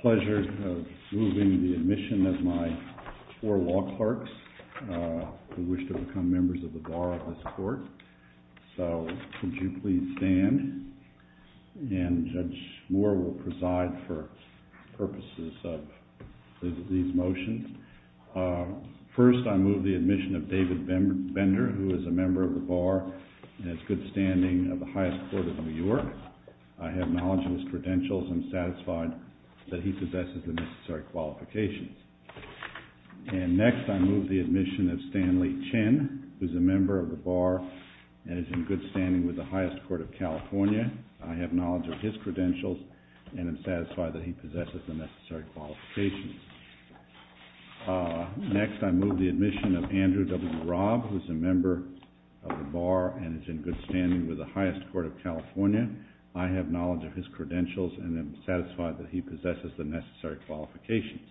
Pleasure of moving the admission of my four law clerks who wish to become members of the Bar of this Court. So, could you please stand? And Judge Moore will preside for purposes of these motions. First, I move the admission of David Bender, who is a member of the Bar, and has good standing of the highest court of New York. I have knowledge of his credentials and am satisfied that he possesses the necessary qualifications. And next, I move the admission of Stanley Chin, who is a member of the Bar and is in good standing with the highest court of California. I have knowledge of his credentials and am satisfied that he possesses the necessary qualifications. Next, I move the admission of Andrew W. Robb, who is a member of the Bar and is in good standing with the highest court of California. I have knowledge of his credentials and am satisfied that he possesses the necessary qualifications.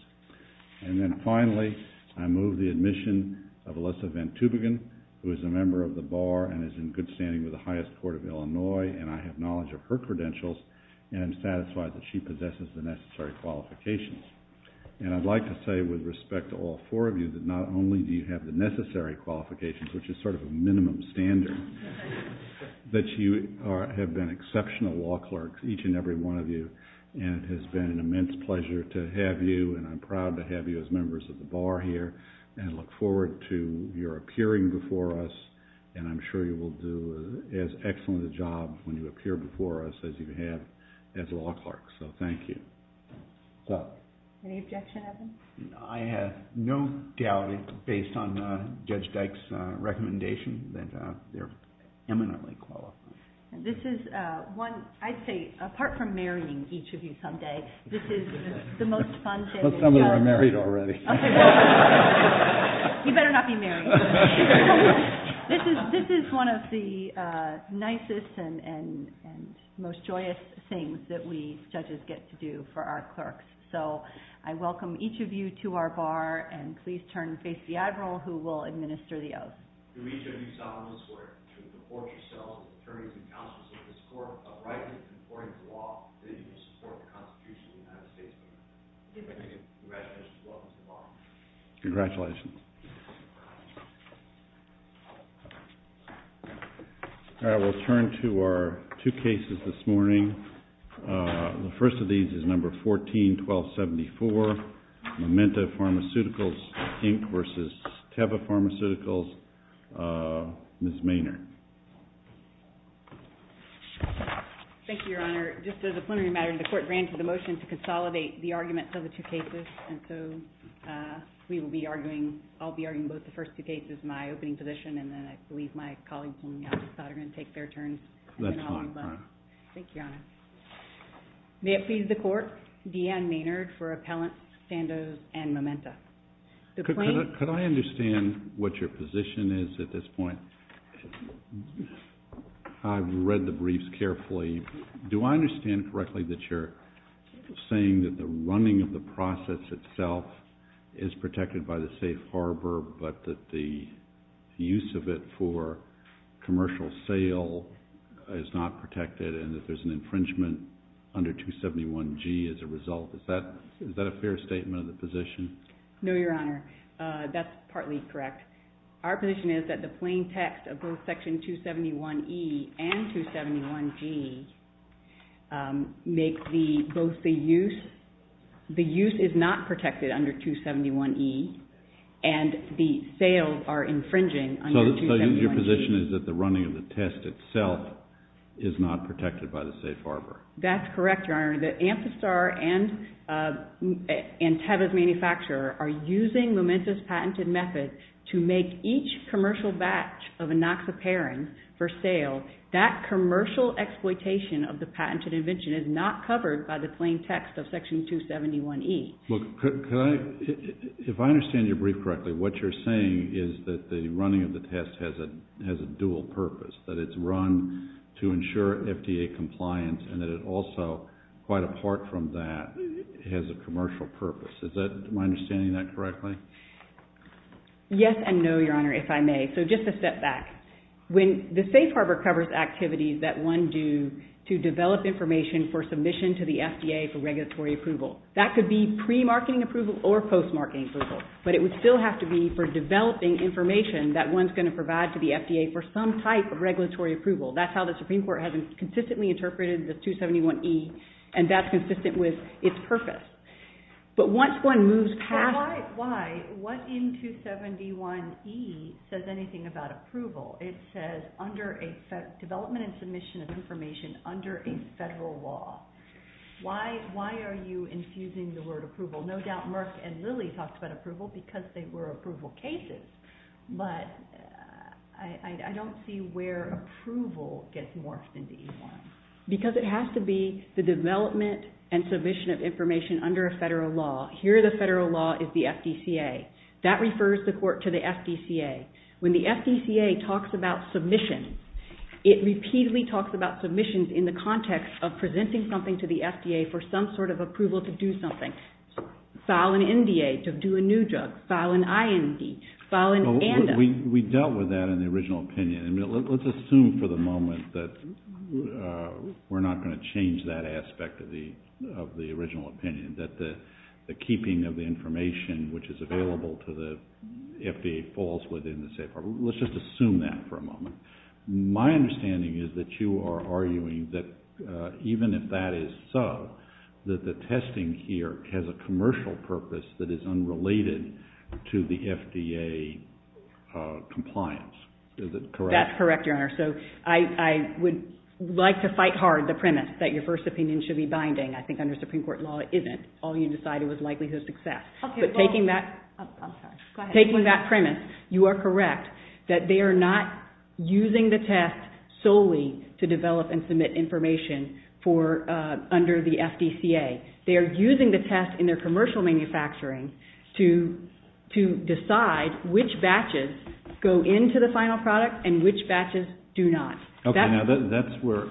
And then finally, I move the admission of Alyssa Van Tubingen, who is a member of the Bar and is in good standing with the highest court of Illinois, and I have knowledge of her credentials and am satisfied that she possesses the necessary qualifications. And I'd like to say with respect to all four of you that not only do you have the necessary qualifications, which is sort of a minimum standard, but you have been exceptional law clerks, each and every one of you, and it has been an immense pleasure to have you, and I'm proud to have you as members of the Bar here, and I look forward to your appearing before us, and I'm sure you will do as excellent a job when you appear before us as you have as a law clerk. So, thank you. Any objections? I have no doubt, based on Judge Dyke's recommendation, that they're eminently qualified. This is one, I'd say, apart from marrying each of you someday, this is the most fun day ever. Well, some of you are married already. You better not be married. This is one of the nicest and most joyous things that we judges get to do for our clerks, so I welcome each of you to our Bar, and please turn and face the admiral, who will administer the oath. To each of you, stop on this word. To the court yourselves, and the attorneys and counsels, with the support of the right and the support of the law, I bid you the support of the Constitution and the United States. You may be seated. Congratulations. Welcome to the Bar. Congratulations. I will turn to our two cases this morning. The first of these is No. 14-1274, Memento Pharmaceuticals, Inc. v. Kebba Pharmaceuticals, Ms. Maynard. Thank you, Your Honor. Just as a preliminary matter, the court granted a motion to consolidate the argument for the two cases, and so we will be arguing, I'll be arguing both the first two cases in my opening position, and then I believe my colleagues in the office of the attorney will take their turns. That's fine. Thank you, Your Honor. May it please the court, D'Ann Maynard for Appellant Sandoz and Memento. Could I understand what your position is at this point? I've read the briefs carefully. Do I understand correctly that you're saying that the running of the process itself is protected by the safe harbor, but that the use of it for commercial sale is not protected and that there's an infringement under 271G as a result? Is that a fair statement of the position? No, Your Honor. That's partly correct. Our position is that the plain text of both Section 271E and 271G make both the use, the use is not protected under 271E and the sales are infringing under 271G. So your position is that the running of the test itself is not protected by the safe harbor? That's correct, Your Honor. The Ampistar and Tebbis Manufacturer are using Memento's patented method to make each commercial batch of enoxaparin for sale. That commercial exploitation of the patented invention is not covered by the plain text of Section 271E. Look, if I understand your brief correctly, what you're saying is that the running of the test has a dual purpose, that it's run to ensure FDA compliance and that it also, quite apart from that, has a commercial purpose. Is that my understanding of that correctly? Yes and no, Your Honor, if I may. So just a step back. When the safe harbor covers activities that one do to develop information for submission to the FDA for regulatory approval, that could be pre-marketing approval or post-marketing approval, but it would still have to be for developing information that one's going to provide to the FDA for some type of regulatory approval. That's how the Supreme Court has consistently interpreted the 271E and that's consistent with its purpose. But once one moves past... But why? Why? What in 271E says anything about approval? It says development and submission of information under a federal law. Why are you infusing the word approval? No doubt Mark and Lily talked about approval because they were approval cases, but I don't see where approval gets morphed into any more. Because it has to be the development and submission of information under a federal law. Here the federal law is the FDCA. That refers the court to the FDCA. it repeatedly talks about submissions in the context of presenting something to the FDA for some sort of approval to do something. File an MDA to do a new drug. File an IND. File an ANDA. We dealt with that in the original opinion. Let's assume for the moment that we're not going to change that aspect of the original opinion, that the keeping of the information which is available to the FDA falls within the safe harbor. Let's just assume that for a moment. My understanding is that you are arguing that even if that is so, that the testing here has a commercial purpose that is unrelated to the FDA compliance. Is that correct? That's correct, Your Honor. So I would like to fight hard the premise that your first opinion should be binding. I think under Supreme Court law it isn't. All you decided was likelihood of success. But taking that premise, you are correct that they are not using the test solely to develop and submit information under the FDCA. They are using the test in their commercial manufacturing to decide which batches go into the final product and which batches do not. Okay, now that's where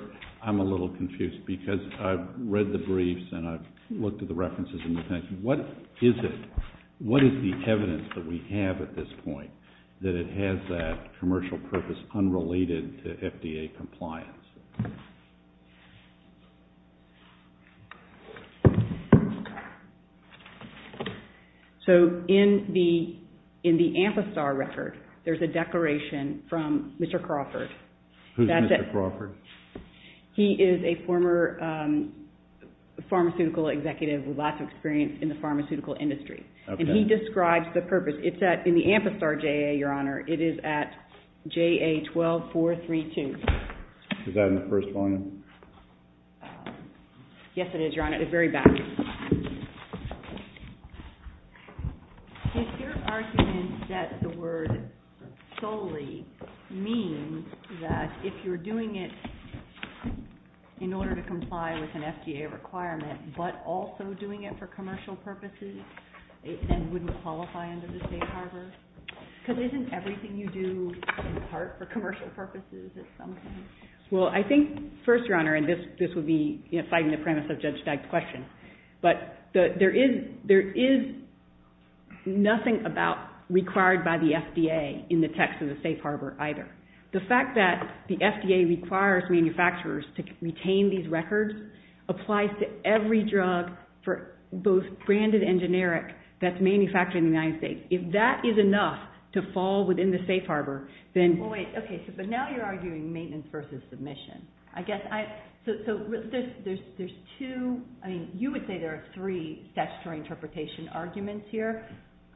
I'm a little confused because I've read the briefs and I've looked at the references in the test. What is the evidence that we have at this point that it has that commercial purpose unrelated to FDA compliance? So in the Amthastar record, there's a declaration from Mr. Crawford. Who's Mr. Crawford? He is a former pharmaceutical executive with lots of experience in the pharmaceutical industry. And he describes the purpose. It's in the Amthastar JAA, Your Honor. It is at JA-12-432. Is that in the first one? Yes, it is, Your Honor. It's very bound. Is your argument that the word solely means that if you're doing it in order to comply with an FDA requirement, but also doing it for commercial purposes, then wouldn't it qualify under the safe harbor? Because isn't everything you do for commercial purposes? Well, I think, first, Your Honor, and this would be fighting the premise of Judge Fagg's question, but there is nothing about required by the FDA in the text of the safe harbor either. The fact that the FDA requires manufacturers to retain these records applies to every drug for both branded and generic that's manufactured in the United States. If that is enough to fall within the safe harbor, then... Well, wait. Okay. So now you're arguing maintenance versus submission. I guess I... So there's two... I mean, you would say there are three statutory interpretation arguments here.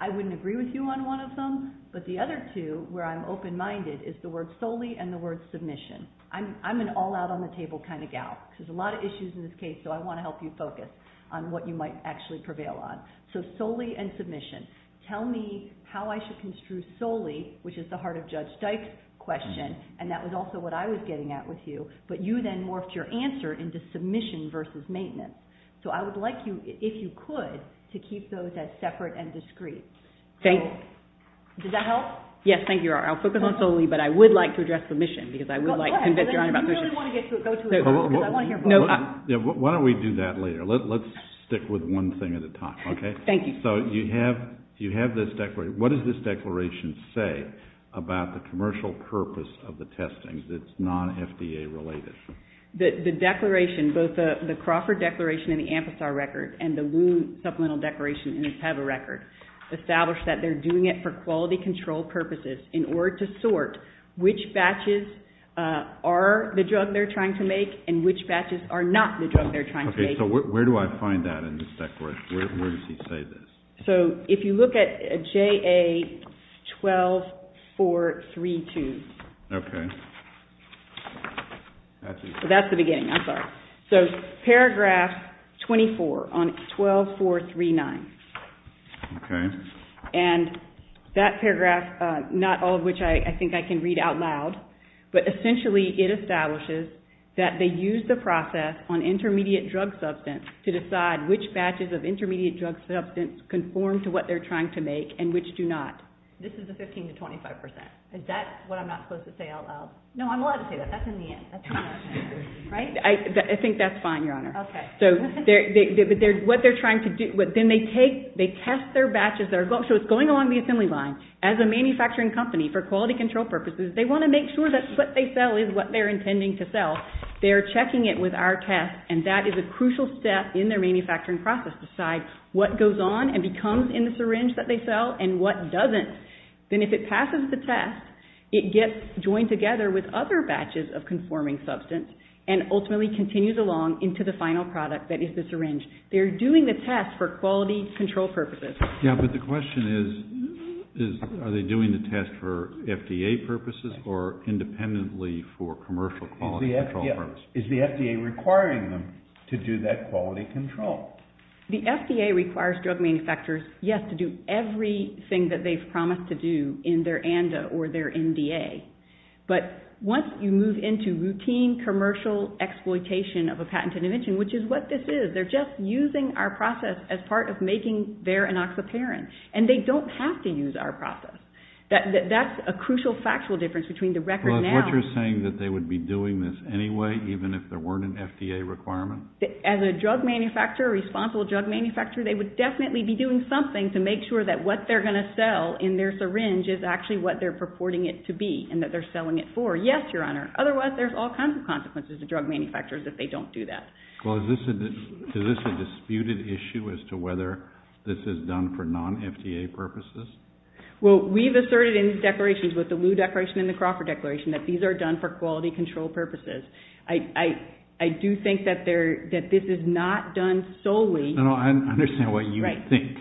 I wouldn't agree with you on one of them. But the other two, where I'm open-minded, is the word solely and the word submission. I'm an all-out-on-the-table kind of gal. There's a lot of issues in this case, so I want to help you focus on what you might actually prevail on. So solely and submission. Tell me how I should construe solely, which is the heart of Judge Dyke's question, and that was also what I was getting at with you, but you then morphed your answer into submission versus maintenance. So I would like you, if you could, to keep those as separate and discrete. Thank you. Does that help? Yes, thank you, Your Honor. I'll focus on solely, but I would like to address submission because I would like to convince Your Honor... Why don't we do that later? Let's stick with one thing at a time, okay? Thank you. So you have this declaration. What does this declaration say about the commercial purpose of the testing that's non-FDA-related? The declaration, both the Crawford Declaration and the Ampistar record and the Wound Supplemental Declaration in the TABA record, establish that they're doing it for quality control purposes in order to sort which batches are the drugs, which drug they're trying to make and which batches are not the drug they're trying to make. Okay, so where do I find that in this declaration? Where does it say this? So if you look at JA-12-432. Okay. That's the beginning. I'm sorry. So paragraph 24 on 12-439. Okay. And that paragraph, not all of which I think I can read out loud, but essentially it establishes that they use the process on intermediate drug substance to decide which batches of intermediate drug substance conform to what they're trying to make and which do not. This is the 15% to 25%. Is that what I'm not supposed to say out loud? No, I'm allowed to say that. That's in the end. I think that's fine, Your Honor. Okay. Then they test their batches. So it's going along the assembly line. As a manufacturing company for quality control purposes, they want to make sure that what they sell is what they're intending to sell. They're checking it with our test, and that is a crucial step in their manufacturing process to decide what goes on and becomes in the syringe that they sell and what doesn't. Then if it passes the test, it gets joined together with other batches of conforming substance and ultimately continues along into the final product that is the syringe. They're doing the test for quality control purposes. Yeah, but the question is, are they doing the test for FDA purposes or independently for commercial quality control purposes? Is the FDA requiring them to do that quality control? The FDA requires drug manufacturers, yes, to do everything that they've promised to do in their ANDA or their NDA. But once you move into routine commercial exploitation of a patented invention, which is what this is, they're just using our process as part of making their ANASA pairing. And they don't have to use our process. That's a crucial factual difference between the record now... Well, is what you're saying that they would be doing this anyway even if there weren't an FDA requirement? As a drug manufacturer, a responsible drug manufacturer, they would definitely be doing something to make sure that what they're going to sell in their syringe is actually what they're purporting it to be and that they're selling it for. Yes, Your Honor. Otherwise, there's all kinds of consequences to drug manufacturers if they don't do that. Well, is this a disputed issue as to whether this is done for non-FDA purposes? Well, we've asserted in these declarations with the Lew Declaration and the Crawford Declaration that these are done for quality control purposes. I do think that this is not done solely... No, I understand what you think.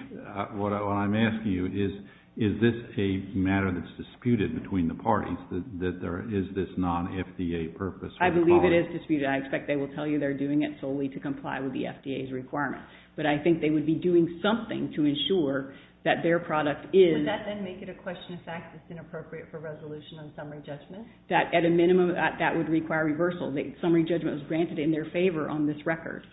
What I'm asking you is, is this a matter that's disputed between the parties that there is this non-FDA purpose... I believe it is disputed. I expect they will tell you they're doing it solely to comply with the FDA's requirements, but I think they would be doing something to ensure that their product is... Would that then make it a question of fact that's inappropriate for resolution on summary judgment? At a minimum, that would require reversal. The summary judgment was granted in their favor on this record.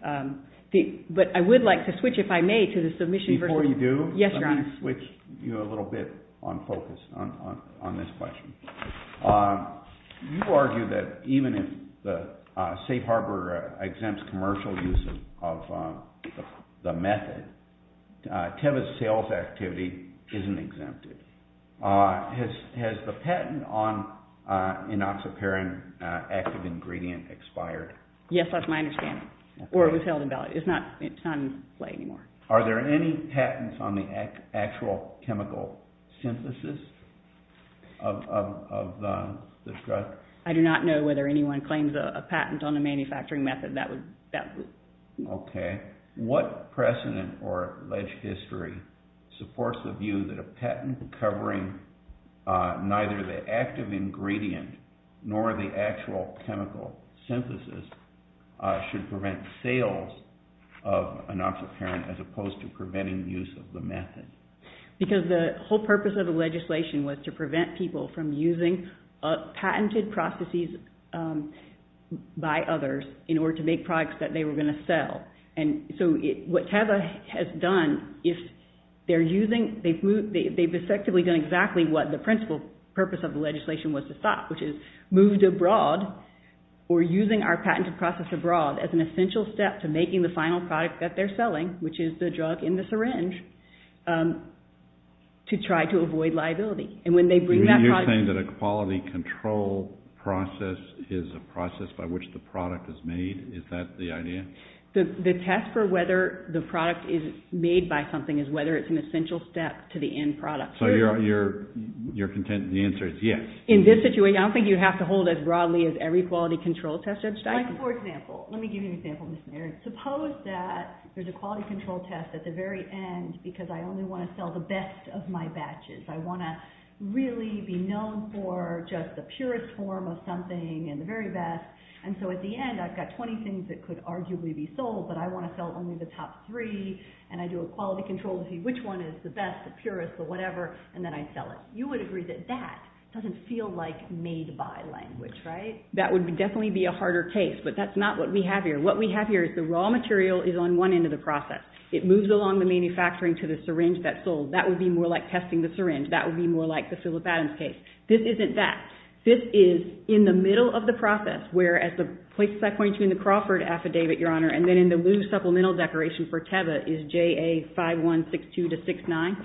But I would like to switch, if I may, to the submission... Before you do, I'm going to switch you a little bit on focus on this question. You argue that even if the safe harbor exempts commercial uses of the method, Kevin's sales activity isn't exempted. Has the patent on enoxaparin active ingredient expired? Yes, that's my understanding. Or you tell them about it. It's not in play anymore. Are there any patents on the actual chemical synthesis of the drug? I do not know whether anyone claims a patent on the manufacturing method. That would... Okay. What precedent or history supports the view that a patent covering neither the active ingredient nor the actual chemical synthesis should prevent the sales of enoxaparin as opposed to preventing use of the method? Because the whole purpose of the legislation was to prevent people from using patented processes by others in order to make products that they were going to sell. And so what TEVA has done is they've effectively done exactly what the principal purpose of the legislation was to stop, which is moved abroad or using our patented process abroad as an essential step to making the final product that they're selling, which is the drug in the syringe, to try to avoid liability. And when they bring that product... You're saying that a quality control process is a process by which the product is made? Is that the idea? The test for whether the product is made by something is whether it's an essential step to the end product. So you're... The answer is yes. In this situation, I don't think you have to... For example, let me give you an example. Suppose that there's a quality control test at the very end because I only want to sell the best of my batches. I want to really be known for just the purest form of something and the very best. And so at the end, I've got 20 things that could arguably be sold, but I want to sell only the top three and I do a quality control to see which one is the best, the purest, the whatever, and then I sell it. You would agree that that doesn't feel like made-by selling, right? That would definitely be a harder case, but that's not what we have here. What we have here is the raw material is on one end of the process. It moves along the manufacturing to the syringe that's sold. That would be more like testing the syringe. That would be more like the Phillip Adams case. This isn't that. This is in the middle of the process where at the place I point you in the Crawford affidavit, Your Honor, and then in the new supplemental declaration for Teva is JA 5162-69.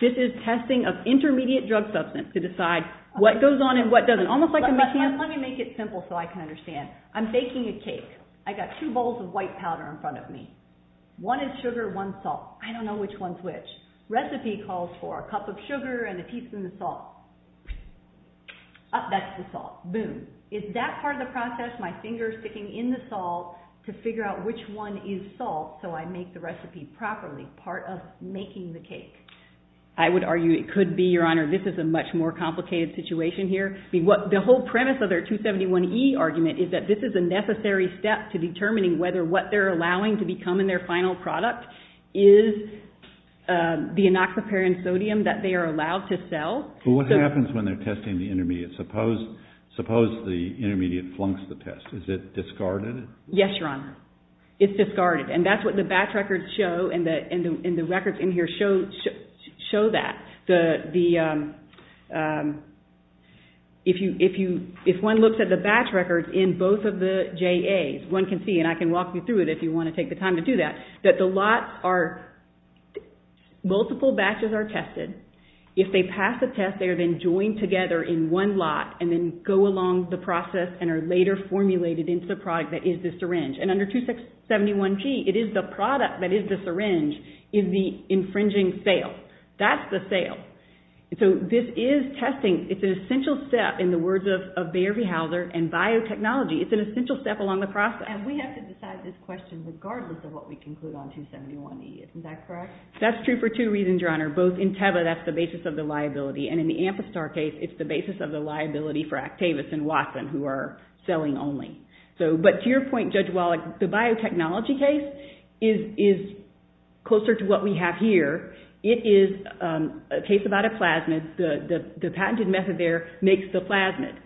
This is testing of intermediate drug substance to decide what goes on and what doesn't. Let me make it simple so I can understand. I'm baking a cake. I got two bowls of white powder in front of me. One is sugar, one's salt. I don't know which one's which. Recipe calls for a cup of sugar and a teaspoon of salt. That's the salt. Boom. Is that part of the process, my fingers sticking in the salt to figure out which one is salt so I make the recipe properly, part of making the cake? I would argue it could be, Your Honor, this is a much more complicated situation here. The whole premise of their 271E argument is that this is a necessary step to determining whether what they're allowing to become in their final product is the inoculopare and sodium that they are allowed to sell. What happens when they're testing the intermediate? Suppose the intermediate flunks the test. Is it discarded? Yes, Your Honor. It's discarded, and that's what the batch records show and the records in here show that if one looks at the batch records in both of the JAs, one can see, and I can walk you through it if you want to take the time to do that, that the lots are, multiple batches are tested. If they pass the test, they are then joined together in one lot and then go along the process and are later formulated into the product that is the syringe. Under 271G, it is the product that is the syringe is the product that's the sale. This is testing. It's an essential step in the words of Bayer-Hauser and biotechnology. It's an essential step along the process. And we have to decide this question regardless of what we can put on 271E. Isn't that correct? That's true for two reasons, Your Honor. Both in Teva, that's the basis of the liability, and in the Ampistar case, it's the basis of the liability for Actavis and Watson, who are selling only. But to your point, Judge Wallach, the biotechnology case is closer to what we have here. It is a case about a plasmid. The patented method there makes the plasmid.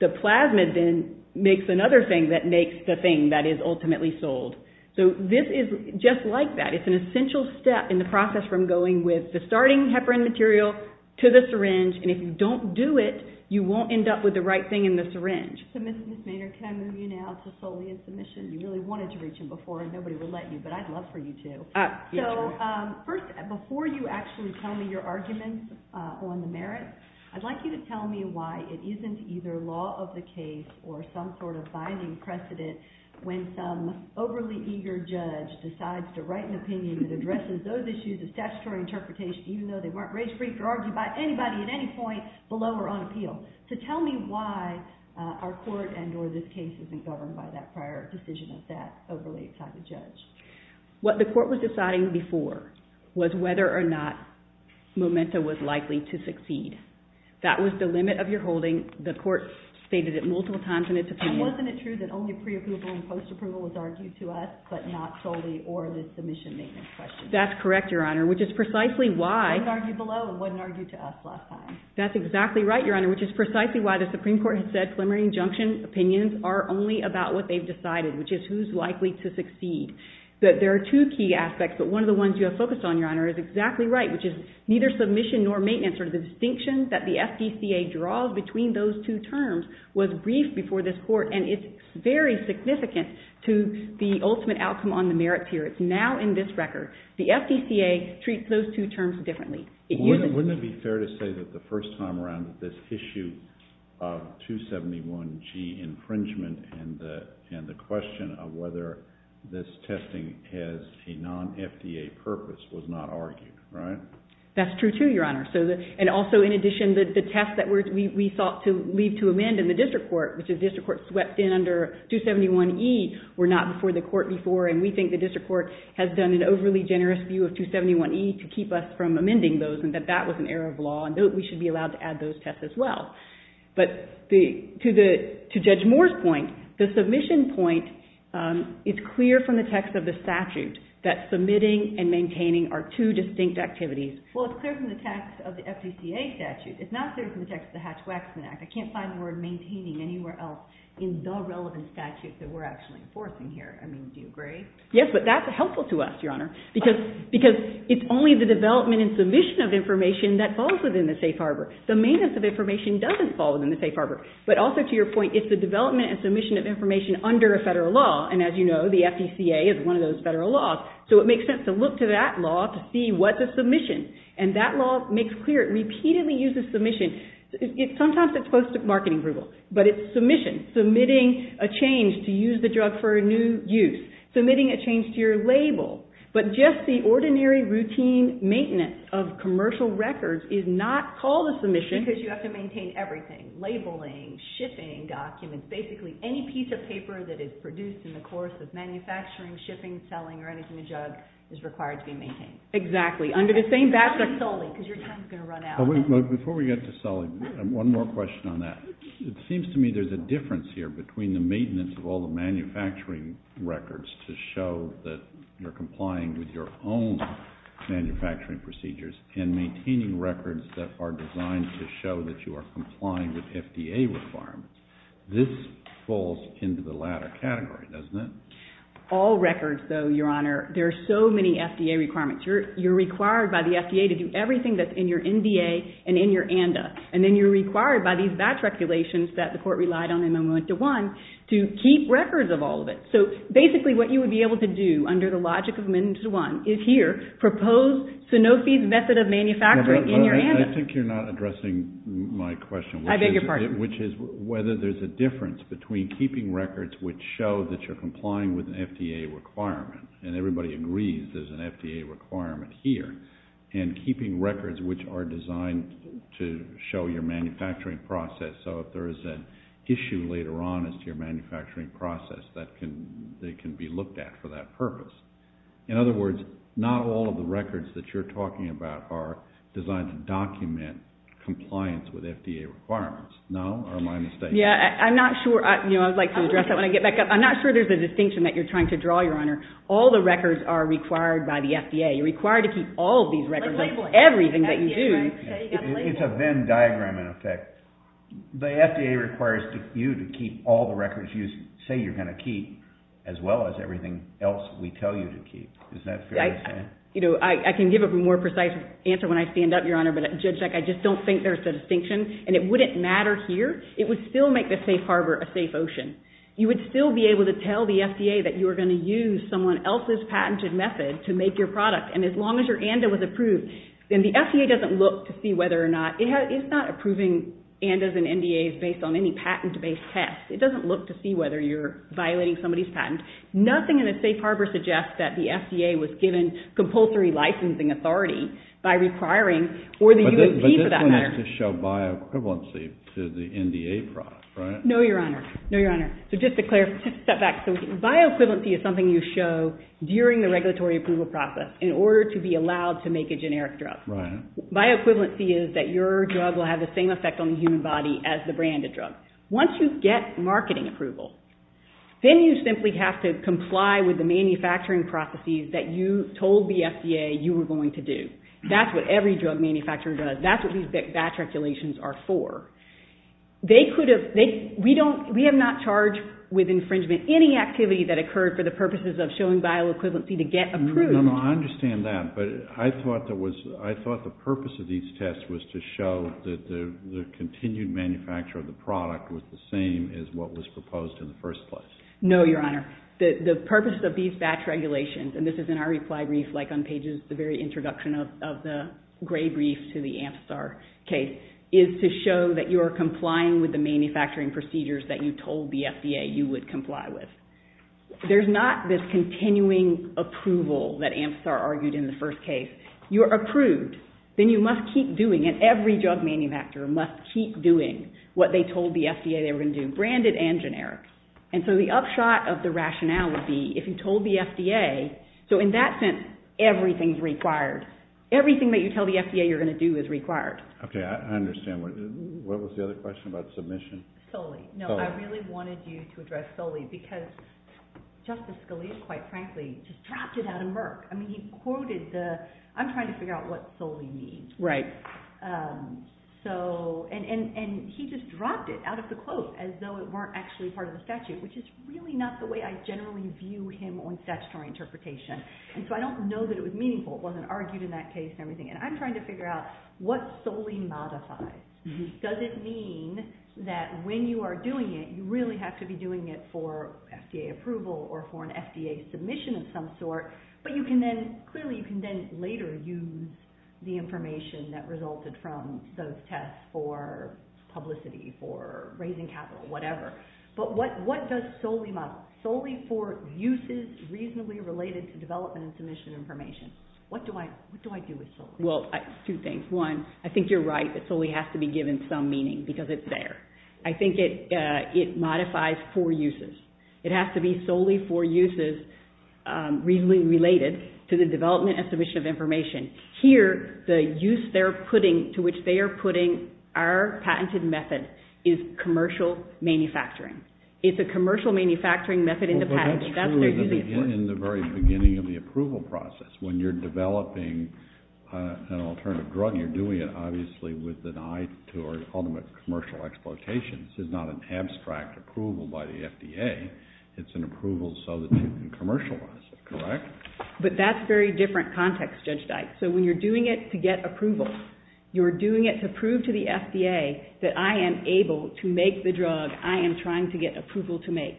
The plasmid then makes another thing that makes the thing that is ultimately sold. So this is just like that. It's an essential step in the process from going with the starting heparin material to the syringe, and if you don't do it, you won't end up with the right thing in the syringe. So, Ms. Hussainer, can I move you now to Solia's submission? You really wanted to reach him before and nobody would let you, but I'd love for you to. So, first, before you actually tell me your arguments on the merits, I'd like you to tell me why it isn't either law of the case or some sort of binding precedent when some overly eager judge decides to write an opinion that addresses those issues of statutory interpretation, even though they weren't race-free, could argue about anybody at any point below or on appeal. So tell me why our court and or this case isn't governed by that prior decision of that overly type of judge. What the court was deciding before was whether or not Momenta was likely to succeed. That was the limit of your holding. The court stated it multiple times in its opinion. And wasn't it true that only pre-approval and post-approval was argued to us, but not solely or in the submission maintenance question? That's correct, Your Honor, which is precisely why It wasn't argued below. It wasn't argued to us last time. That's exactly right, Your Honor, which is precisely why the Supreme Court had said that the preliminary injunction opinions are only about what they've decided, which is who's likely to succeed. But there are two key aspects, but one of the ones you have focused on, Your Honor, is exactly right, which is neither submission nor maintenance or the distinction that the FDCA draws between those two terms was briefed before this court, and it's very significant to the ultimate outcome on the merit tier. It's now in this record. The FDCA treats those two terms differently. Wouldn't it be fair to say that the first time around this issue of 271G infringement and the question of whether this testing has a non-FDA purpose was not argued, right? That's true, too, Your Honor. And also in addition, the test that we sought to leave to amend in the district court, which the district court swept in under 271E, were not before the court before, and we think the district court has done an overly generous view of 271E to keep us from amending those, and that that has an error of law, and we should be allowed to add those tests as well. But to Judge Moore's point, the submission point is clear from the text of the statute that submitting and maintaining are two distinct activities. Well, it's clear from the text of the FDCA statute. It's not clear from the text of the Hatch-Waxman Act. I can't find the word maintaining anywhere else in the relevant statute that we're actually enforcing here. I mean, do you agree? Yes, but that's helpful to us, Your Honor, because it's only the development and submission of information that falls within the safe harbor. The maintenance of information doesn't fall within the safe harbor. But also, to your point, it's the development and submission of information under a federal law, and as you know, the FDCA is one of those federal laws, so it makes sense to look to that law to see what the submission and that law makes clear. It repeatedly uses submission. Sometimes it's post-marketing approval, but it's submission, submitting a change to use the drug for a new use, submitting a change to your label, but just the ordinary routine maintenance of commercial records is not called a submission. Because you have to maintain everything. Labeling, shipping documents, basically any piece of paper that is produced in the course of manufacturing, shipping, selling, or anything to do with drugs is required to be maintained. Exactly. Under the same backdrop. You're kind of going to run out. Before we get to selling, one more question on that. It seems to me there's a difference here between the maintenance of all the manufacturing records to show that you're complying with your own manufacturing procedures, and maintaining records that are designed to show that you are complying with FDA requirements. This falls into the latter category, doesn't it? All records, though, Your Honor. There are so many FDA requirements. You're required by the FDA to do everything that's in your NDA and in your ANDA. And then you're required by these batch regulations that the Court relied on in Amendment 1 to keep records of all of it. So basically what you would be able to do under the logic of Amendment 1 is here, propose Sanofi's method of manufacturing in your ANDA. I think you're not addressing my question, which is whether there's a difference between keeping records which show that you're complying with an FDA requirement, and everybody agrees there's an FDA requirement here, and keeping records which are designed to show your manufacturing process. So if there's an issue later on, it's your manufacturing process that can be looked at for that purpose. In other words, not all of the records that you're talking about are designed to document compliance with FDA requirements. No? Or am I mistaken? Yeah, I'm not sure. I was like, I'm not sure there's a distinction that you're trying to draw, Your Honor. All the records are required by the FDA. You're required to keep all of these records, like everything that you do. It's a Venn diagram, in effect. The FDA requires you to keep all the records you say you're going to keep, as well as everything else we tell you to keep. I can give a more precise answer when I stand up, Your Honor, but I just don't think there's a distinction, and it wouldn't matter here. It would still make the safe harbor a safe ocean. You would still be able to tell the FDA that you were going to use someone else's patented method to make your product, and as long as your ANDA was approved, then the FDA doesn't look to see whether or not, it's not approving ANDAs and NDAs based on any patent based test. It doesn't look to see whether you're violating somebody's patent. Nothing in the safe harbor suggests that the FDA was given compulsory licensing authority by requiring or the UAP for that matter. But this one has to show bioequivalency to the NDA product, right? No, Your Honor. So just to step back, bioequivalency is something you show during the regulatory approval process in order to be allowed to make a generic drug. Bioequivalency is that your drug will have the same effect on the human body as the branded drug. Once you get marketing approval, then you simply have to comply with the manufacturing processes that you told the FDA you were going to do. That's what every drug manufacturer does. That's what these batch regulations are for. We have not charged with infringement any activity that occurred for the purposes of showing bioequivalency to get approved. I understand that, but I thought the purpose of these tests was to show that the continued manufacture of the product was the same as what was proposed in the first place. No, Your Honor. The purpose of these batch regulations and this is in our reply brief like on pages the very introduction of the gray brief to the Amstar case is to show that you are complying with the manufacturing procedures that you told the FDA you would comply with. There's not this that Amstar argued in the first case. You're approved, then you must keep doing it. Every drug manufacturer must keep doing what they told the FDA they were going to do, branded and generic. The upshot of the rationality if you told the FDA so in that sense, everything is required. Everything that you tell the FDA you're going to do is required. I understand. What was the other question about submission? I really wanted you to address Foley because Justice Scalia quite frankly, just dropped it out of Merck. He quoted the I'm trying to figure out what Foley means. Right. He just dropped it out of the quote as though it weren't actually part of the statute, which is really not the way I generally view him on statutory interpretation. I don't know that it was meaningful. It wasn't argued in that case. I'm trying to figure out what Foley modifies. Does it mean that when you are doing it, you really have to be doing it for FDA approval or for an FDA submission of some sort, but you can then later use the information that resulted from those tests for publicity, for raising capital, whatever. What does Foley model? Foley for uses reasonably related to development and submission information. What do I do with Foley? Two things. One, I think you're right. Foley has to be given some meaning because it's there. I think it modifies for uses. It has to be solely for uses reasonably related to the development and submission of information. Here, the use they're putting to which they are putting our patented method is commercial manufacturing. It's a commercial manufacturing method in the patent. That's true in the very beginning of the approval process. When you're developing an alternative drug, you're doing it, obviously, with an eye to commercial exploitation. This is not an abstract approval by the FDA. It's an approval so that it can be commercialized. Correct? That's a very different context, Judge Dyke. When you're doing it to get approval, you're doing it to prove to the FDA that I am able to make the drug I am trying to get approval to make.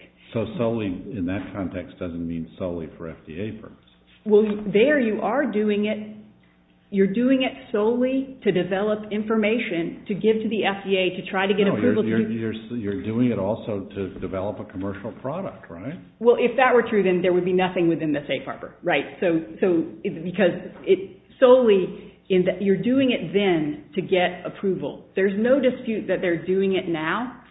Foley, in that context, doesn't mean solely for FDA purposes. There, you are doing it. You're doing it solely to develop information to give to the FDA to try to get approval. You're doing it also to develop a commercial product, right? Well, if that were true, then there would be nothing within the safe harbor, right? Because it's solely in that you're doing it then to get approval. There's no dispute that they're doing it now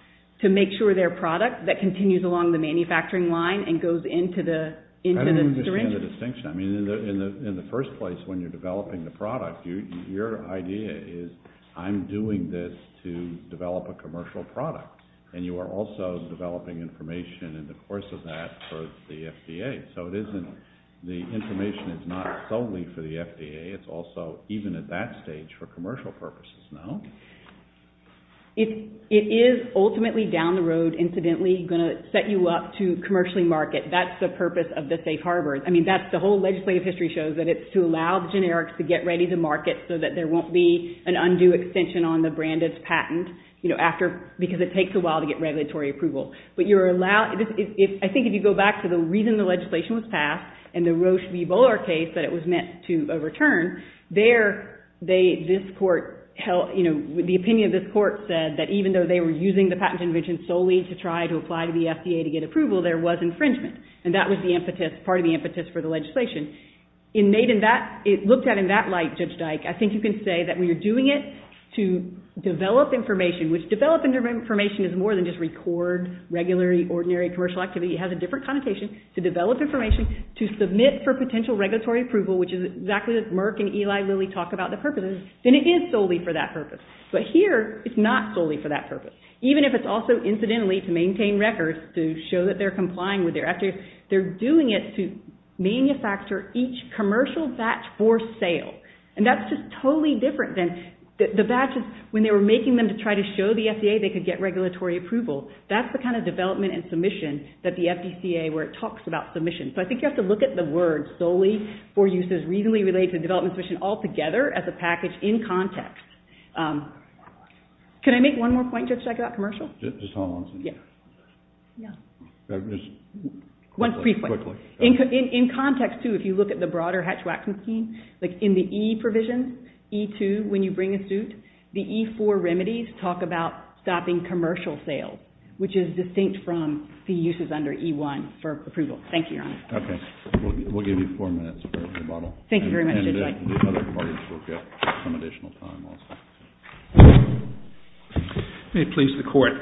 to make sure their product that continues along the manufacturing line and goes into the syringe. I don't understand the distinction. In the first place, when you're developing the product, your idea is I'm doing this to develop a commercial product. And you are also developing information in the course of that for the FDA. So it isn't the information is not solely for the FDA. It's also, even at that stage, for commercial purposes, no? It is ultimately down the road, incidentally, going to set you up to commercially market. That's the purpose of the safe harbor. I mean, the whole legislative history shows that it's to allow the generics to get ready to market so that there won't be an undue extension on the branded patent because it takes a while to get regulatory approval. But you're allowed... I think if you go back to the reason the legislation was passed and the Roche v. Bolar case that it was meant to overturn, there, the opinion of this court said that even though they were using the patent convention solely to try to apply to the FDA to get approval, there was infringement. And that was part of the patent convention. It looked at it in that light, Judge Dike. I think you can say that we were doing it to develop information, which developing information is more than just record, regular, ordinary, commercial activity. It has a different connotation. To develop information, to submit for potential regulatory approval, which is exactly what Merck and Eli Lilly talk about the purpose of, then it is solely for that purpose. But here, it's not solely for that purpose. Even if it's also, incidentally, to maintain records to show that they're complying with their batch for sale. And that's just totally different than the batches when they were making them to try to show the FDA they could get regulatory approval. That's the kind of development and submission that the FDCA, where it talks about submission. So I think you have to look at the word solely for uses reasonably related to development submission altogether as a package in context. Can I make one more point, Judge Dike, about commercial? Yeah. One brief point. In context, too, if you look at the broader Hatch-Waxman scheme, in the E provisions, E2, when you bring a suit, the E4 remedies talk about stopping commercial sales, which is distinct from the uses under E1 for approval. Thank you, Your Honor. We'll give you four minutes. Thank you very much, Judge Dike. Let me please the Court.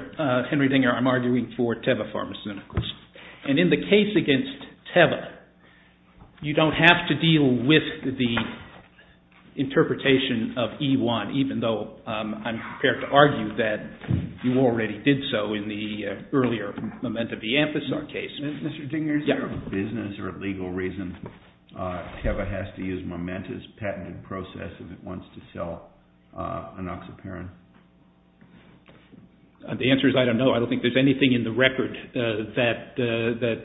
Henry Dinger, I'm arguing for Teva Pharmaceuticals. In the case against Teva, you don't have to deal with the interpretation of E1, even though I'm prepared to argue that you already did so in the earlier Memento De Emphis case. Isn't there a legal reason Teva has to use Memento's patented process if it wants to sell enoxaparin? The answer is I don't know. I don't think there's anything in the statute that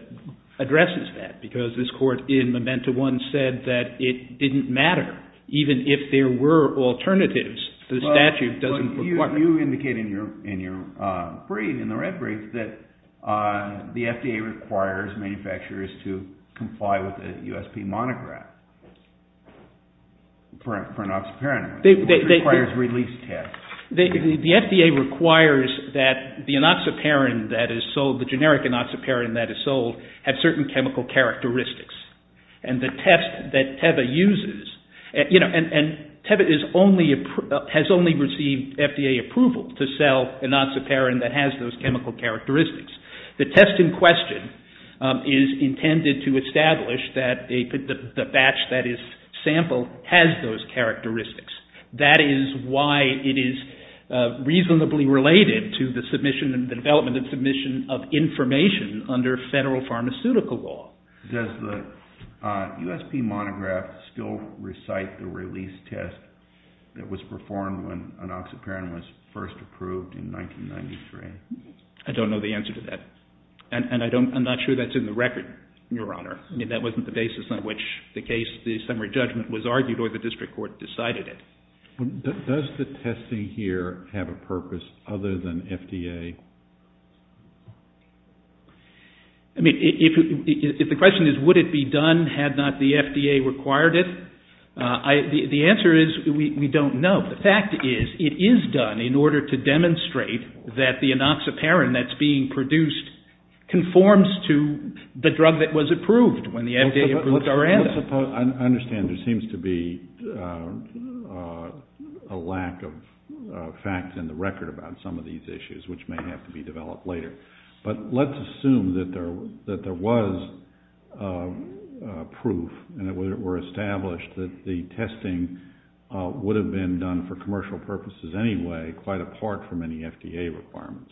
addresses that, because this Court in Memento 1 said that it didn't matter, even if there were alternatives. The statute doesn't require it. You indicate in your brief, in the red brief, that the FDA requires manufacturers to comply with the USP monograph for enoxaparin. It requires a release test. The FDA requires that the enoxaparin that is sold, the generic enoxaparin that is sold, have certain chemical characteristics, and the test that Teva uses and Teva has only received FDA approval to sell enoxaparin that has those chemical characteristics. The test in question is intended to establish that the batch that is sampled has those characteristics. That is why it is reasonably related to the development of submission of information under federal pharmaceutical law. Does the USP monograph still recite the release test that was performed when enoxaparin was first approved in 1993? I don't know the answer to that. I'm not sure that's in the record, Your Honor. That wasn't the basis on which the case, the summary judgment was argued or the district court decided it. Does the testing here have a purpose other than FDA? The question is, would it be done had not the FDA required it? The answer is, we don't know. The fact is, it is done in order to demonstrate that the enoxaparin that's being produced conforms to the drug that was approved when the FDA approved our answer. I understand there seems to be a lack of fact in the record about some of these issues, which may have to be developed later. But let's assume that there was proof and that it were established that the testing would have been done for commercial purposes anyway, quite apart from any FDA requirements.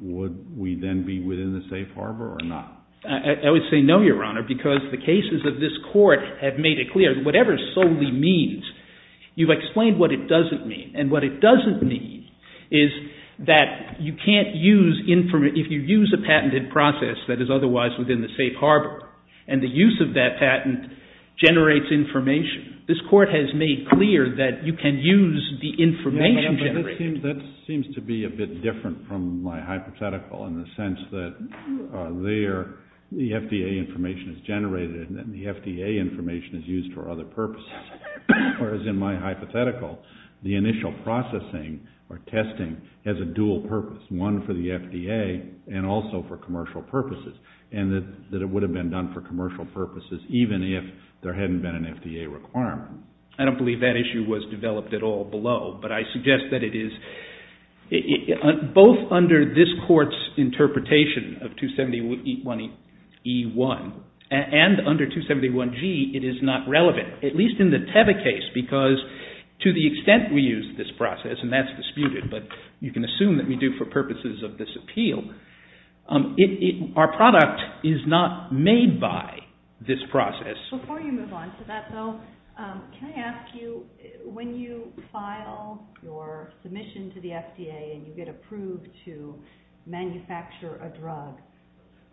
Would we then be within the safe harbor or not? I would say no, Your Honor, because the cases of this court have made it clear that whatever solely means, you've explained what it doesn't mean. And what it doesn't mean is that you can't use if you use a patented process that is otherwise within the safe harbor and the use of that patent generates information. This court has made clear that you can use the information generated. That seems to be a bit different from my hypothetical in the sense that there the FDA information is generated and the FDA information is used for other purposes, whereas in my hypothetical, the initial processing or testing has a dual purpose, one for the FDA and also for commercial purposes and that it would have been done for commercial purposes, even if there hadn't been an FDA requirement. I don't believe that issue was developed at all below, but I suggest that it is both under this court's interpretation of 270E1 and under 271G it is not relevant, at least in the Teva case, because to the extent we use this process, and that's disputed, but you can assume that we do for purposes of this appeal. Our product is not made by this process. Before you move on to that though, can I ask you when you file your submission to the FDA and you get approved to manufacture a drug,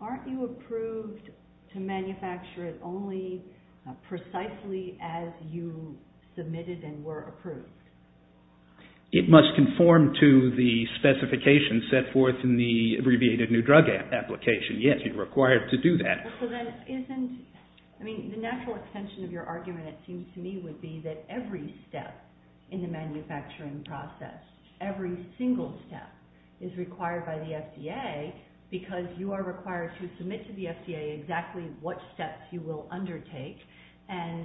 aren't you approved to manufacture it only precisely as you submitted and were approved? It must conform to the specifications set forth in the abbreviated new drug application. Yes, you're required to do that. The natural extension of your argument, it seems to me, would be that every step in the manufacturing process, every single step, is required by the FDA. You're required to submit to the FDA exactly what steps you will undertake, and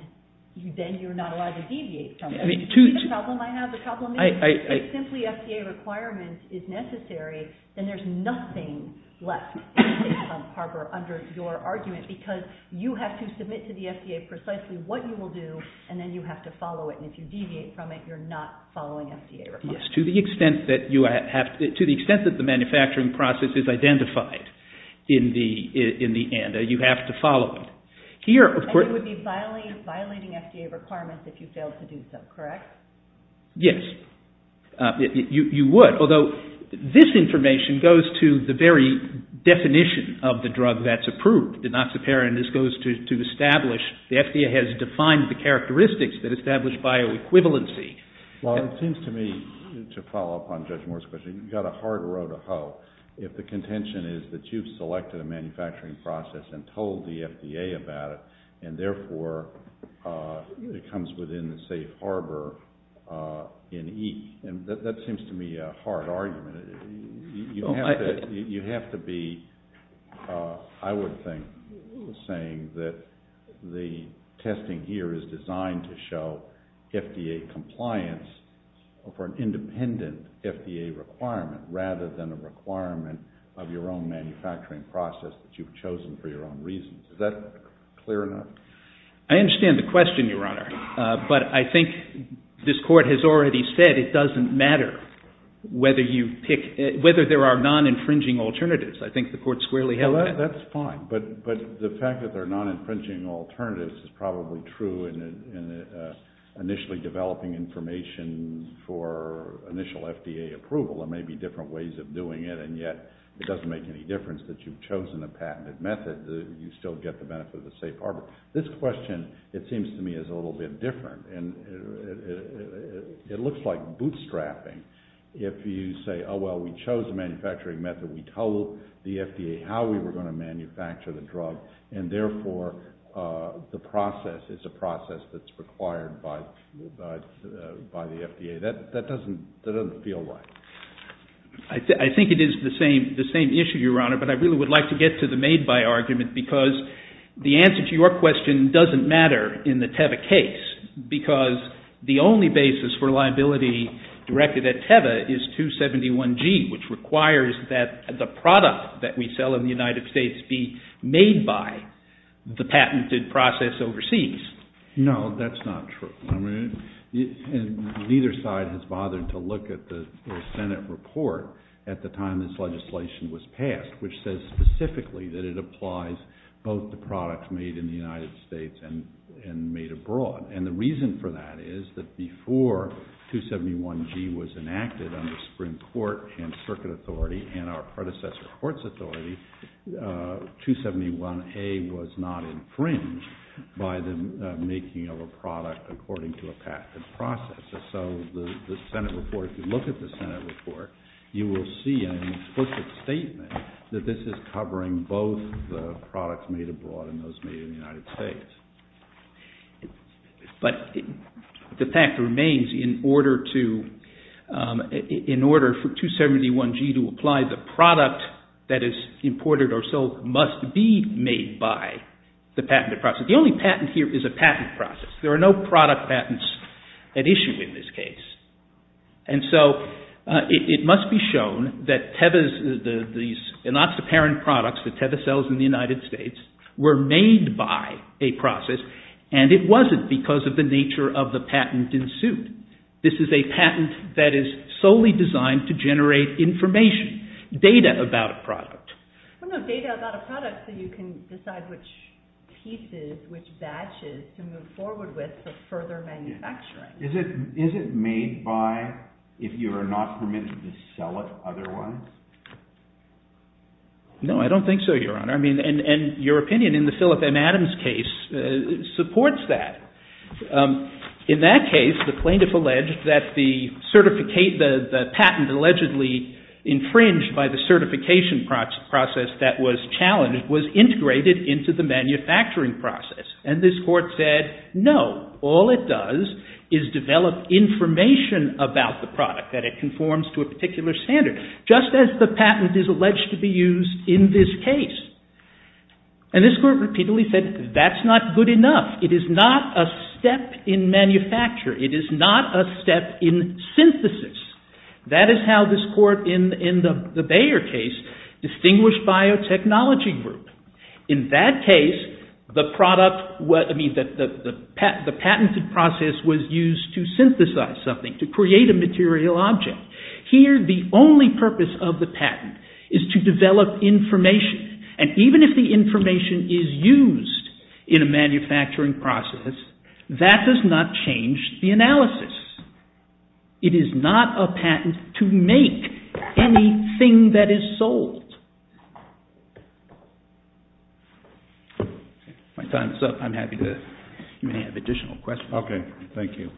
then you're not allowed to deviate from it. Do you see the problem I have? The problem is if simply FDA requirements is necessary, then there's nothing left to do under your argument, because you have to submit to the FDA precisely what you will do, and then you have to follow it, and if you deviate from it, you're not following FDA requirements. Yes, to the extent that the manufacturing process is identified in the end, you have to follow it. And you would be violating FDA requirements if you failed to do so, correct? Yes. You would, although this information goes to the very definition of the drug that's approved. The noxiparin, this goes to establish, the FDA has defined the characteristics that establish bioequivalency. Well, it seems to me, to follow up on Dr. Koh, if the contention is that you've selected a manufacturing process and told the FDA about it, and therefore it comes within the safe harbor in each, and that seems to me a hard argument. You have to be, I would think, saying that the testing here is designed to show FDA compliance for an independent FDA requirement, rather than a requirement of your own manufacturing process that you've chosen for your own reasons. Is that clear enough? I understand the question, Your Honor, but I think this Court has already said it doesn't matter whether you pick, whether there are non-infringing alternatives. I think the Court squarely held that. That's fine, but the fact that there are non-infringing alternatives is probably true in initially developing information for initial FDA approval. There may be different ways of doing it, and yet it doesn't make any difference that you've chosen the patented method. You still get the benefit of the safe harbor. This question, it seems to me, is a little bit different, and it looks like bootstrapping. If you say, oh, well, we chose the manufacturing method, we told the FDA how we were going to manufacture the drug, and therefore the process is a process that's required by the FDA, that doesn't feel right. I think it is the same issue, Your Honor, but I really would like to get to the made-by argument, because the answer to your question doesn't matter in the TEVA case, because the only basis for liability directed at TEVA is 271G, which requires that the product that we sell in the United States be made-by the patented process overseas. No, that's not true. Neither side has bothered to look at the Senate report at the time this legislation was passed, which says specifically that it applies both the products made in the United States and made abroad, and the reason for that is that before 271G was enacted under Supreme Court and Circuit Authority and our predecessor, Courts Authority, 271A was not infringed by the making of a product according to a patented process. And so the Senate report, if you look at the Senate report, you will see an explicit statement that this is covering both the products made abroad and those made in the United States. But the fact remains, in order to, in order for 271G to apply the product that is imported or sold must be made by the patented process. The only patent here is a patent process. There are no product patents at issue in this case. And so it must be shown that these enoxaparin products, the Teva cells in the United States, were made by a process and it wasn't because of the nature of the patent in suit. This is a patent that is solely designed to generate information, data about a product. I don't know, data about a product, so you can decide which pieces, which batches to move forward with for further manufacturing. Is it made by, if you are not permitted to sell it, other ones? No, I don't think so, Your Honor. I mean, and your opinion in the Philip M. Adams case supports that. In that case, the plaintiff alleged that the patent allegedly infringed by the certification process that was challenged was integrated into the manufacturing process. And this court said, no, all it does is develop information about the product that it conforms to a particular standard, just as the patent is alleged to be used in this case. And this court repeatedly said that's not good enough. It is not a step in manufacturing. It is not a step in synthesis. That is how this court, in the Bayer case, distinguished by a technology group. In that case, the product, I mean, the patented process was used to synthesize something, to create a material object. Here, the only purpose of the patent is to develop information, and even if the information is used in a manufacturing process, that does not change the analysis. It is not a patent to make anything that is sold. My time is up. I'm happy to, if you have additional questions. Okay, thank you.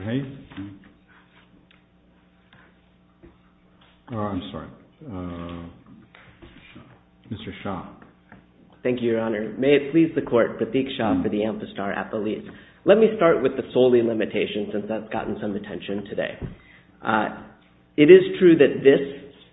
Mr. Hayes? Oh, I'm sorry. Mr. Shah. Thank you, Your Honor. May it please the court to seek Shah for the Amphistar at the least. Let me start with the solely limitation, since that's gotten some attention today. It is true that this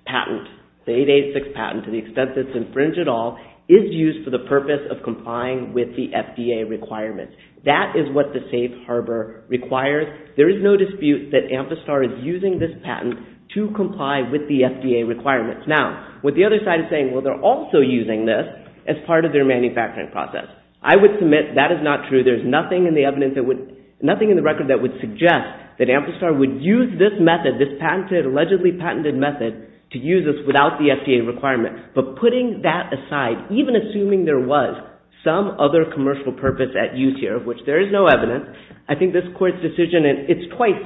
patent, the 886 patent, to the extent that it's infringed at all, is used for the purpose of complying with the FDA requirements. That is what the safe harbor requires. There is no dispute that Amphistar is using this patent to comply with the FDA requirements. Now, with the other side saying, well, they're also using this as part of their manufacturing process. I would submit that is not true. There's nothing in the record that would suggest that Amphistar would use this method, this allegedly patented method, to use this without the FDA requirement. But putting that aside, even assuming there was some other commercial purpose at use here, of which there is no evidence, I think this court's decision is quite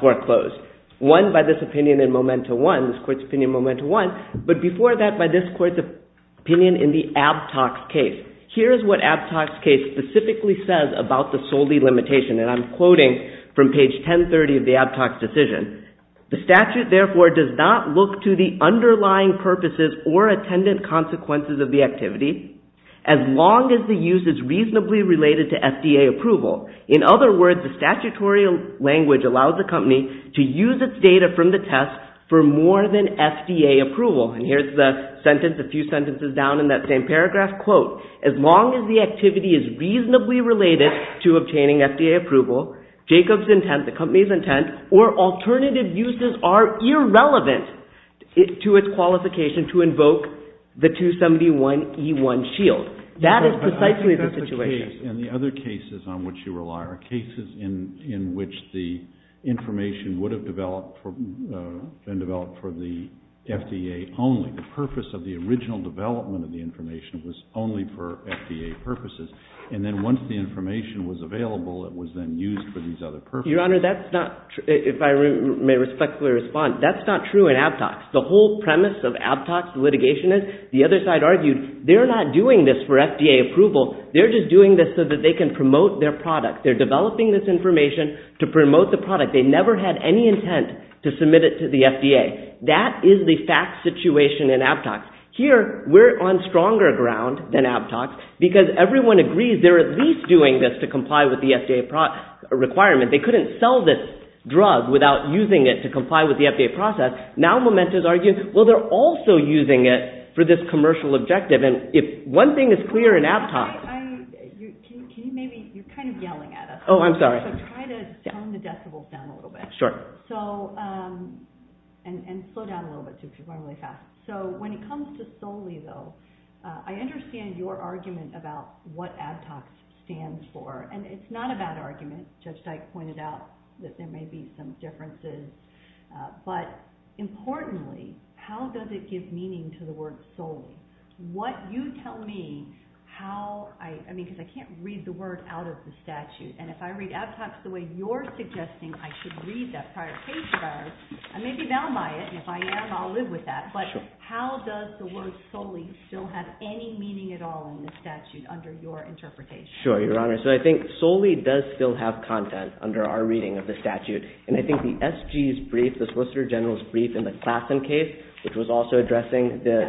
foreclosed. One, by this opinion in Momento 1, this court's opinion in Momento 1, but before that, by this court's opinion in the Abtox case. Here's what Abtox's case specifically says about the solely limitation, and I'm quoting from page 1030 of the Abtox decision. The statute therefore does not look to the underlying purposes or attendant consequences of the activity, as long as the use is reasonably related to FDA approval. In other words, the statutory language allows a company to use its data from the test for more than FDA approval. And here's the sentence, a few sentences down in that same paragraph, quote, as long as the activity is reasonably related to obtaining FDA approval, Jacob's intent, the company's intent, or alternative uses are irrelevant to its qualification to invoke the 271E1 shield. That is precisely the situation. And the other cases on which you rely are cases in which the information would have developed for the FDA only. The purpose of the original development of the information was only for FDA purposes. And then once the information was available, it was then used for these other purposes. Your Honor, that's not true. If I may respectfully respond, that's not true in Abtox. The whole premise of Abtox litigation is, the other side argued, they're not doing this for FDA approval. They're just doing this so that they can promote their product. They're developing this information to promote the product. They never had any intent to submit it to the FDA. That is the fact situation in Abtox. Here, we're on stronger ground than Abtox because everyone agrees they're at least doing this to comply with the FDA requirement. They couldn't sell this drug without using it to comply with the FDA process. Now Momenta's arguing, well, they're also using it for this commercial objective. And if something is clear in Abtox... You're kind of yelling at us. Oh, I'm sorry. So try to turn the decibels down a little bit. Sure. And slow down a little bit, too, because we're going really fast. So when it comes to solely, though, I understand your argument about what Abtox stands for. And it's not a bad argument. Judge Dyke pointed out that there may be some differences. But importantly, how does it give meaning to the word solely? Can you tell me how... I mean, because I can't read the word out of the statute. And if I read Abtox the way you're suggesting I should read that prior page of ours, I may be down by it. And if I am, I'll live with that. But how does the word solely still have any meaning at all in the statute under your interpretation? Sure, Your Honor. So I think solely does still have content under our reading of the statute. And I think the SG's brief, the Solicitor General's brief in the Claflin case, which was also addressing the...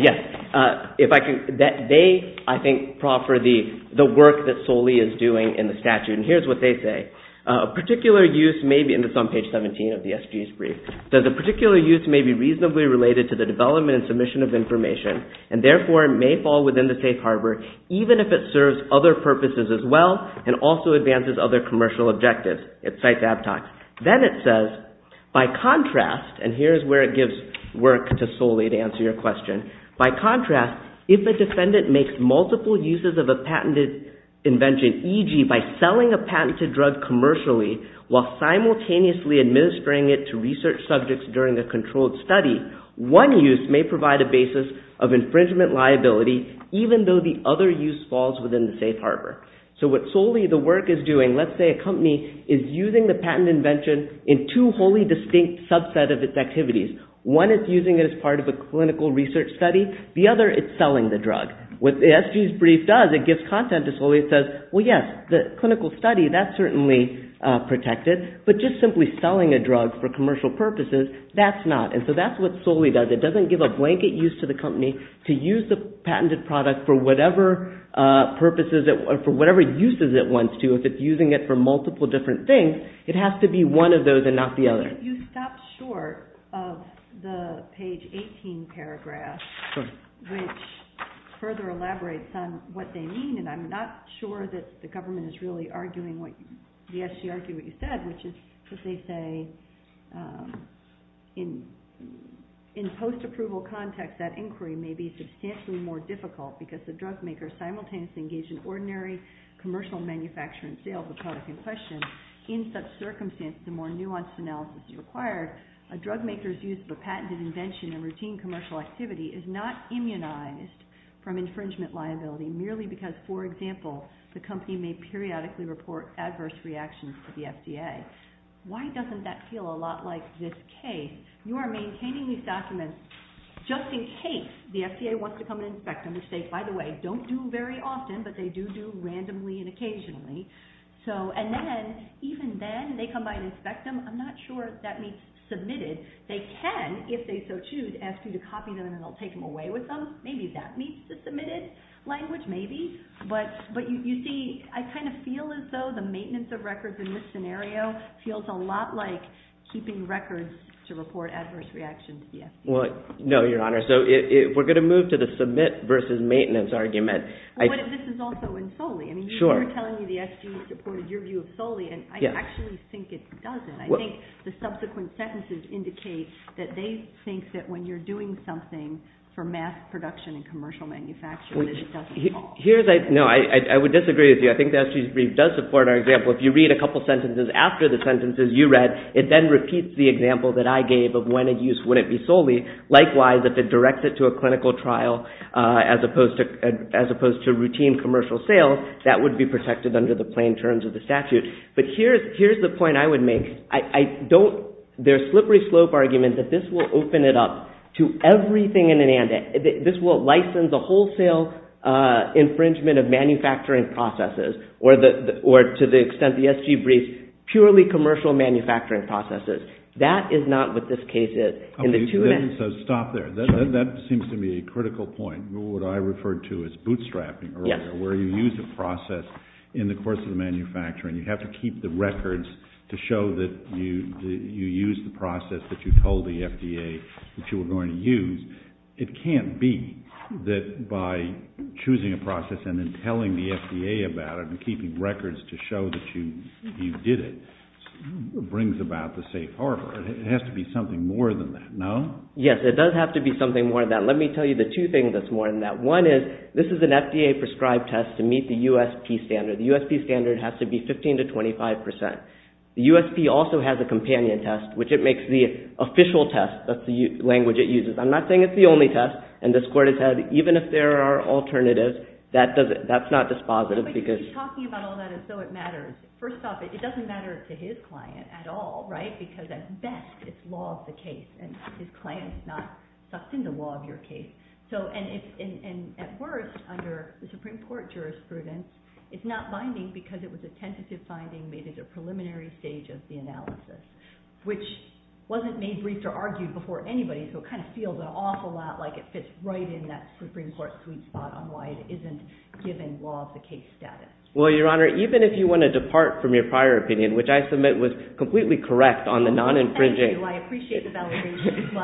Yes. They, I think, proffer the work that solely is doing in the statute. And here's what they say. Particular use may be, and it's on page 17 of the SG's brief, that the particular use may be reasonably related to the development and submission of information, and therefore may fall within the safe harbor even if it serves other purposes as well and also advances other commercial objectives. It cites Abtox. Then it says, by contrast, and here's where it gives work to solely to answer your question. By contrast, if a defendant makes multiple uses of a patented invention, e.g. by selling a patented drug commercially while simultaneously administering it to research subjects during a controlled study, one use may provide a basis of infringement liability even though the other use falls within the safe harbor. So what solely the work is doing, let's say a company, is using the patent invention in two distinct subsets of its activities. One it's using as part of a clinical research study. The other, it's selling the drug. What the SG's brief does is give content that says, well, yes, the clinical study, that's certainly protected, but just simply selling a drug for commercial purposes, that's not. And so that's what solely does. It doesn't give a blanket use to the company to use the patented product for whatever purposes, for whatever uses it wants to. If it's using it for multiple different things, it has to be one of those and not the other. You stopped short of the page 18 paragraph, which further elaborates on what they mean, and I'm not sure that the government is really arguing what you said, which is that they say in post-approval context, that inquiry may be substantially more difficult because the drug makers simultaneously engage in ordinary commercial manufacturing sales of a product in question. In such circumstance, the more nuanced analysis required, a drug maker's use for patented invention and routine commercial activity is not immunized from infringement liability merely because, for example, the company may periodically report adverse reactions to the FDA. Why doesn't that feel a lot like this case? You are maintaining these documents just in case the FDA wants to come and inspect them and say, by the way, don't do very often, but they do do randomly and occasionally. And then, even then, they come by to inspect them. I'm not sure if that means submitted. They can, if they so choose, ask you to copy them and they'll take them away with them. Maybe that means the submitted language, maybe. But you see, I kind of feel as though the maintenance of records in this scenario feels a lot like keeping records to report adverse reactions to the FDA. No, Your Honor. We're going to move to the submit versus maintenance argument. But this is also in solely. You were telling me the SGS reported your view of solely, and I actually think it doesn't. I think the subsequent sentences indicate that they think that when you're doing something for mass production and commercial manufacturing, it doesn't call. No, I would disagree with you. I think the SGS brief does support our example. If you read a couple sentences after the sentences you read, it then repeats the example that I gave of when a use wouldn't be solely. Likewise, if it directs it to a clinical trial as opposed to routine commercial sales, that would be protected under the plain terms of the statute. But here's the point I would make. There's slippery slope argument that this will open it up to everything in it. This will license a wholesale infringement of manufacturing processes or to the extent the SG briefs purely commercial manufacturing processes. That is not what this case is. So stop there. That seems to me a critical point. What I referred to as bootstrapping where you use a process in the course of manufacturing, you have to keep the records to show that you used the process that you told the FDA that you were going to use. It can't be that by choosing a process and then telling the FDA about it and keeping records to show that you did it brings about the safe harbor. It has to be something more than that, no? Yes, it does have to be something more than that. Let me tell you the two things that's more than that. One is, this is an FDA prescribed test to meet the USP standard. The USP standard has to be 15 to 25%. The USP also has a companion test, which it makes the official test. That's the language it uses. I'm not saying it's the only test. And this court has said even if there are alternatives, that's not dispositive. But you keep talking about all that and so it matters. First off, it doesn't matter to his client at all, right? Because at best it's law of the case and his client does not susten the law of your case. At worst, under the Supreme Court jurisprudence, it's not binding because it was a tentative finding, maybe the preliminary stage of the analysis, which wasn't made brief or argued before anybody, so it kind of feels an awful lot like it fits right in that Supreme Court suite bottom line. It isn't given law of the case status. Well, Your Honor, even if you want to say it was completely correct on the non-infringing... I appreciate the validation.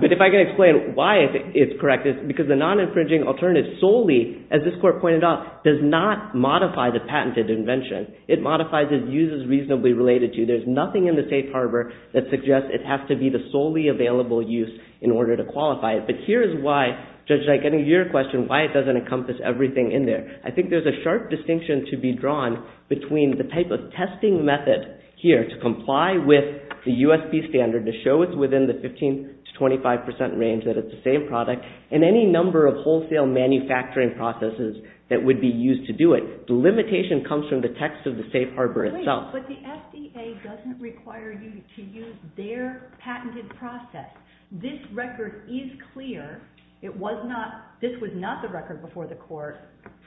But if I can explain why it's correct, it's because the non-infringing alternative solely, as this court pointed out, does not modify the patented invention. It modifies its use as reasonably related to. There's nothing in the safe harbor that suggests it has to be the solely available use in order to qualify it. But here is why, Judge Knight, getting to your question, why it doesn't encompass everything in there. I think there's a sharp distinction to be drawn between the type of testing method here to comply with the USP standard to show it's within the 15 to 25 percent range that it's a safe product, and any number of wholesale manufacturing processes that would be used to do it. The limitation comes from the text of the safe harbor itself. But the FDA doesn't require you to use their patented process. This record is clear. This was not the record before the court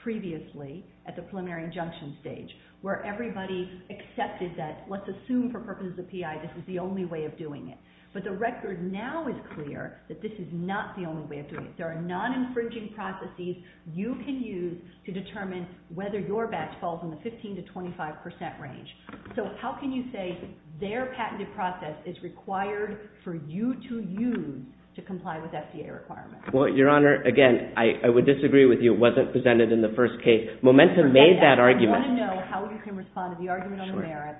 previously at the preliminary injunction stage where everybody accepted that let's assume for purposes of PI this is the only way of doing it. But the record now is clear that this is not the only way of doing it. There are non-infringing processes you can use to determine whether your batch falls in the 15 to 25 percent range. So how can you say their patented process is required for you to use to comply with FDA requirements? Your Honor, again, I would disagree with you. It wasn't presented in the first case. Momentum made that argument. I want to know how we can respond to the argument on the merits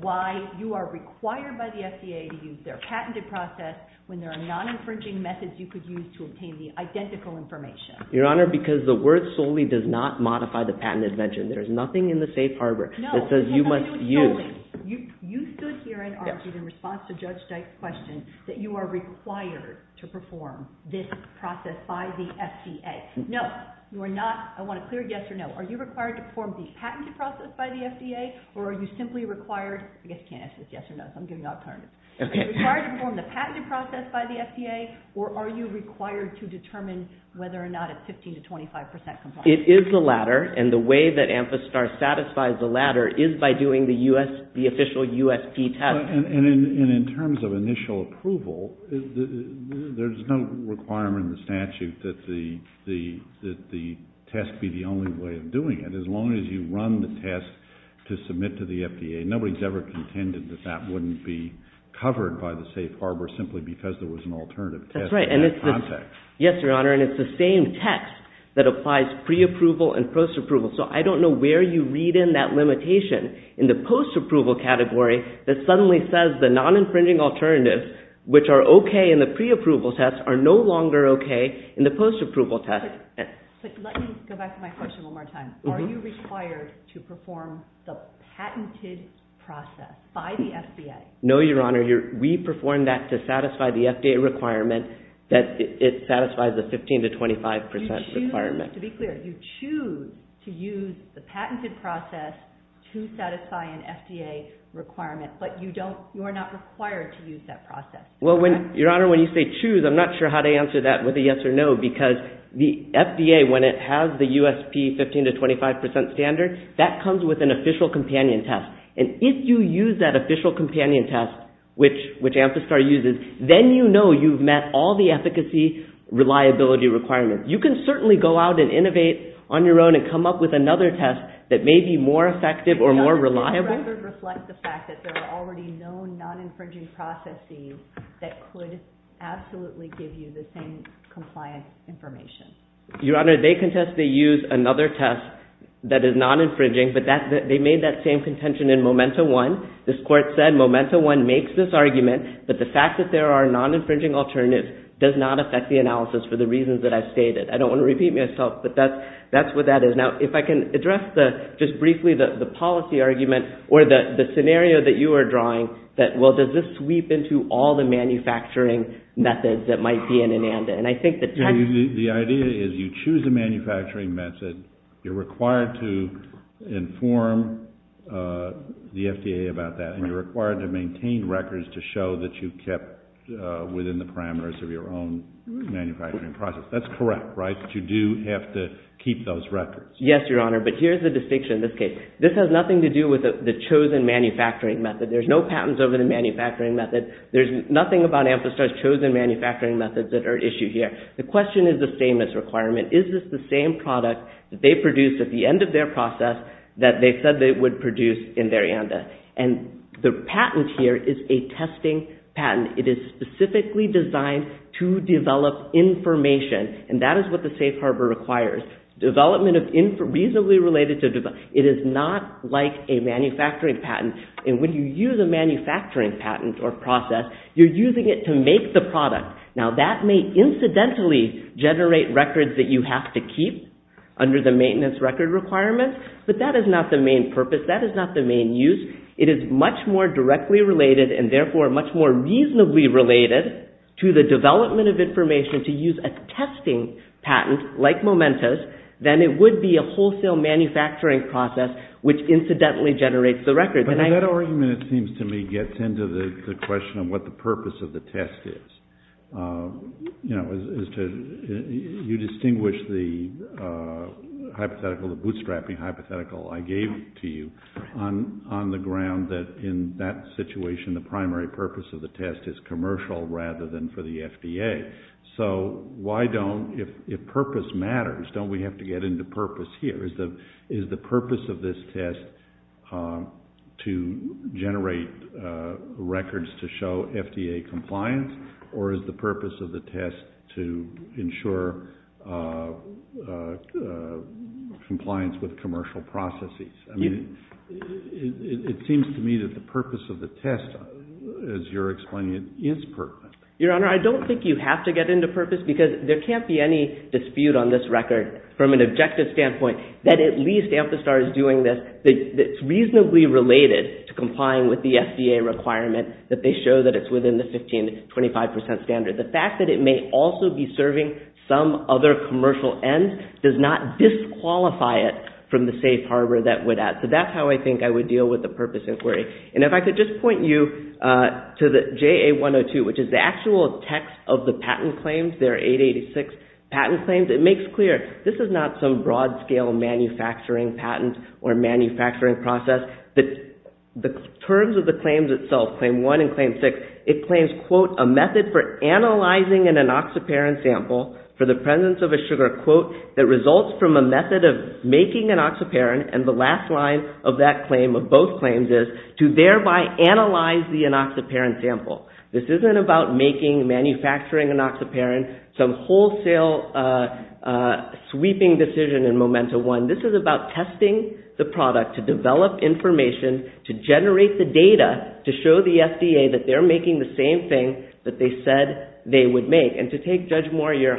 why you are required by the FDA to use their patented process when there are non-infringing methods you could use to obtain the identical information. Your Honor, because the word solely does not modify the patent invention. There's nothing in the safe harbor that says you must use. You stood here and argued in response to Judge Dyke's question that you are required to perform this patented process by the FDA. No, you are not. I want a clear yes or no. Are you required to perform the patented process by the FDA or are you simply required, I guess you can't ask this yes or no, so I'm giving you an alternative. Are you required to perform the patented process by the FDA or are you required to determine whether or not it's 15 to 25 percent compliant? It is the latter and the way that Amthastar satisfies the latter is by doing the official USP test. And in terms of initial approval, there's no requirement in the statute that the test be the only way of doing it. As long as you run the test to submit to the FDA, nobody's ever contended that that wouldn't be covered by the safe harbor simply because there was an alternative test. That's right. Yes, Your Honor, and it's the same test that applies pre-approval and post-approval. So I don't know where you read in that limitation in the post-approval category that suddenly says the non-imprinting alternatives, which are okay in the pre-approval test, are no longer okay in the post-approval test. Let me go back to my question one more time. Are you required to perform the patented process by the FDA? No, Your Honor. We perform that to satisfy the FDA requirement that it satisfies the 15 to 25 percent requirement. To be clear, you choose to use the patented process to satisfy an FDA requirement but you're not required to use that process. Well, Your Honor, when you say choose, I'm not sure how to answer that with a yes or no because the FDA, when it has the USP 15 to 25 percent standard, that comes with an official companion test. If you use that official companion test, which Amstrad uses, then you know you've met all the efficacy reliability requirements. You can certainly go out and innovate on your own and come up with another test that may be more effective or more reliable. Does this record reflect the fact that there are already known non-infringing processes that could absolutely give you the same compliance information? Your Honor, they contest to use another test that is non-infringing but they made that same contention in Momentum 1. This court said Momentum 1 makes this argument that the fact that there are non-infringing alternatives does not affect the analysis for the reasons that I've stated. I don't want to repeat myself but that's what that is. Now, if I can address just briefly the policy argument or the scenario that you are drawing that, well, does this sweep into all the manufacturing methods that might be an amendment? The idea is you choose a manufacturing method, you're required to inform the FDA about that, and you're required to maintain records to show that you've kept within the parameters of your own manufacturing process. That's correct, right? But you do have to keep those records. Yes, Your Honor, but here's the distinction in this case. This has nothing to do with the chosen manufacturing method. There's no patents over the manufacturing method. There's nothing about Amthastar's chosen manufacturing methods that are issued here. The question is the same as requirement. Is this the same product that they produced at the end of their process that they said they would produce in Varianda? The patent here is a testing patent. It is specifically designed to develop information, and that is what the patent is for. It is reasonably related to development. It is not like a manufacturing patent, and when you use a manufacturing patent or process, you're using it to make the product. Now, that may incidentally generate records that you have to keep under the maintenance record requirement, but that is not the main purpose. That is not the main use. It is much more directly related, and therefore much more reasonably related to the development of information to use a testing patent like Momentus than it would be a wholesale manufacturing process which incidentally generates the record. That argument, it seems to me, gets into the question of what the purpose of the test is. You distinguish the hypothetical, the bootstrapping hypothetical I gave to you on the ground that in that situation, the primary purpose of the test is commercial rather than for the FDA, so why don't, if purpose matters, don't we have to get into purpose here? Is the purpose of this test to generate records to show FDA compliance or is the purpose of the test to ensure compliance with commercial processes? I mean, it seems to me that the purpose of the test, as you're explaining, is purpose. Your Honor, I don't think you have to get into purpose because there can't be any dispute on this record from an objective standpoint that at least Amthastar is doing this that's reasonably related to complying with the FDA requirement that they show that it's within the 15 to 25 percent standard. The fact that it may also be serving some other commercial end does not disqualify it from the safe harbor that would act. So that's how I think I would deal with the purpose inquiry. And if I could just point you to the JA-102, which is the actual text of the patent claims, their 886 patent claims, it makes clear this is not some broad scale manufacturing patent or manufacturing process. The terms of the claims itself, claim one and claim six, it claims quote, a method for analyzing an enoxaparin sample for the presence of a sugar, quote, that results from a method of making enoxaparin and the last line of that I analyze the enoxaparin sample. This isn't about making manufacturing enoxaparin, some wholesale sweeping decision in Momentum 1. This is about testing the product to develop information to generate the data to show the FDA that they're making the same thing that they said they would make. And to take Judge Moore, your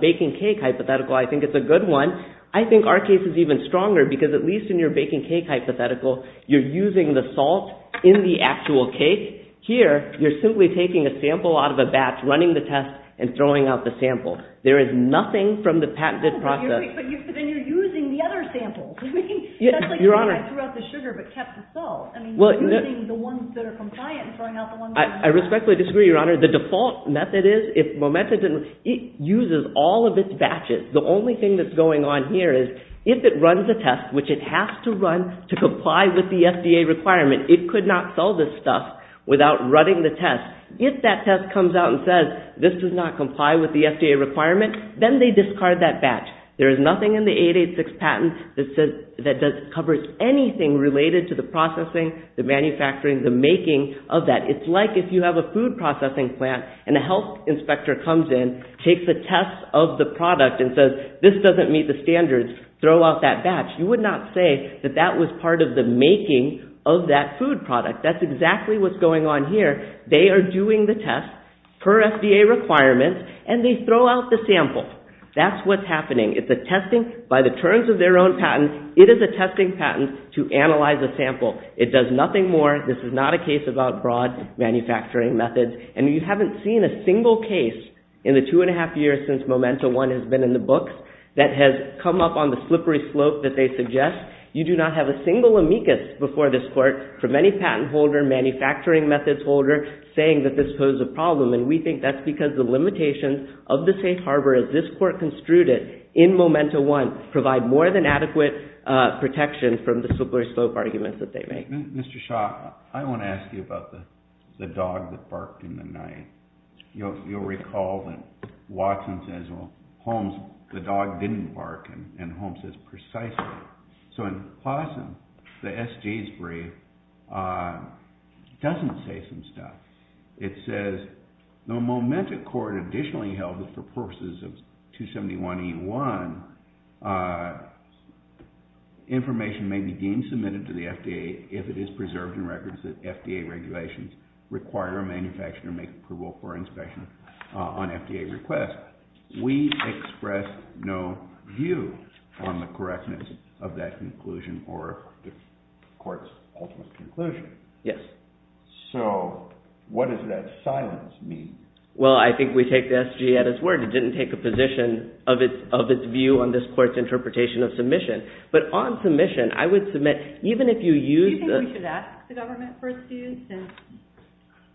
baking cake hypothetical, I think it's a good one. I think our case is even stronger because at least in your baking cake hypothetical you're using the salt in the actual cake. Here you're simply taking a sample out of a batch running the test and throwing out the sample. There is nothing from the patented process. And you're using the other samples. We can throw out the sugar but kept the salt. I mean, you're using the ones that are compliant and throwing out the ones that aren't. I respectfully disagree, your honor. The default method is, Momentum uses all of its batches. The only thing that's going on here is if it runs a test which it has to run to comply with the FDA requirement. It could not sell this stuff without running the test. If that test comes out and says, this does not comply with the FDA requirement, then they discard that batch. There is nothing in the 886 patent that covers anything related to the processing, the manufacturing, the making of that. It's like if you have a food processing plant and a health inspector comes in, takes a test of the product and says, this doesn't meet the standards, throw out that batch. You would not say that that was part of the making of that food product. That's exactly what's going on here. They are doing the test per FDA requirement and they throw out the sample. That's what's happening. It's a testing, by the terms of their own patent, it is a testing patent to analyze the sample. It does nothing more. This is not a case about broad manufacturing methods. And you haven't seen a single case in the two and a half years since Momento One has been in the books that has come up on the slippery slope that they suggest. You do not have a single amicus before this court from any patent holder, manufacturing methods holder, saying that this posed a problem. And we think that's because the limitations of the safe harbor as this court construed it in Momento One provide more than adequate protection from the slippery slope arguments that they make. Mr. Schock, I want to ask you about the dog that barked in the night. You'll recall that Watson says, Holmes, the dog didn't bark, and Holmes says precisely. So in Austin, the SG's brief doesn't say some stuff. It says the Momento court additionally held that for purposes of 271E1 information may be being submitted to the FDA if it is preserved in records that FDA regulations require a manufacturer make approval for an inspection on FDA request. We express no view on the correctness of that conclusion or the court's ultimate conclusion. Yes. So what does that silence mean? Well, I think we take the SG at its word. It didn't take a position of its view on this court's interpretation of submission. But on submission, I would submit, even if you use the... We think we should ask the government for its views, since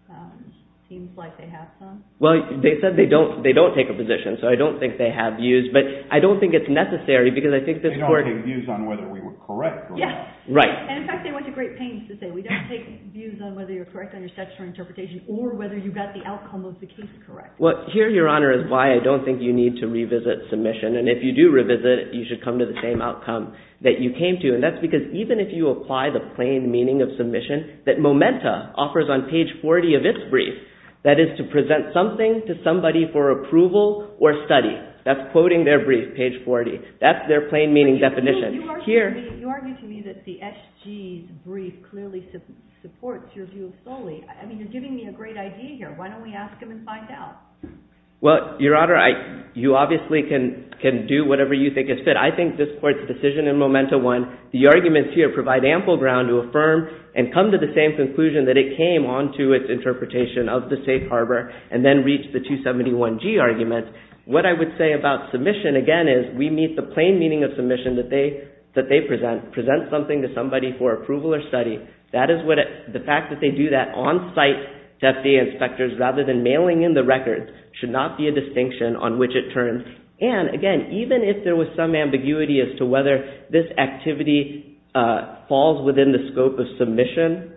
it seems like they have some. Well, they said they don't take a position, so I don't think they have views, but I don't think it's necessary, because I think this court... They don't take views on whether we were correct. Yes. Right. And in fact, they went to great pains to say, we don't take views on whether you're correct on your statutory interpretation or whether you got the outcome of the case correct. Well, here, Your Honor, is why I don't think you need to revisit submission. And if you do revisit it, you should come to the same outcome that you came to. And that's because even if you revisit it, you're not going to have a definition of a brief, you said that MOMENTA offers on page 40 of its brief, that is, to present something to somebody for approval or study. That's quoting their brief, page 40. That's their plain meaning definition. You argue to me that the S.G. brief clearly supports your view fully. I mean, you're giving me a great idea here. Why don't we ask him and find out? Well, Your Honor, you obviously can do whatever you think is fit. I think this court's decision in MOMENTA 1, the arguments here provide ample ground to affirm and come to the same conclusion that it came on to its interpretation of the safe harbor and then reached the 271G argument. What I would say about submission, again, is we meet the plain meaning of submission that they present, present something to somebody for approval or study. That is what, the fact that they do that on-site to FDA inspectors rather than nailing in the records should not be a distinction on which it turns. And, again, even if there was some ambiguity as to whether this activity falls within the scope of submission,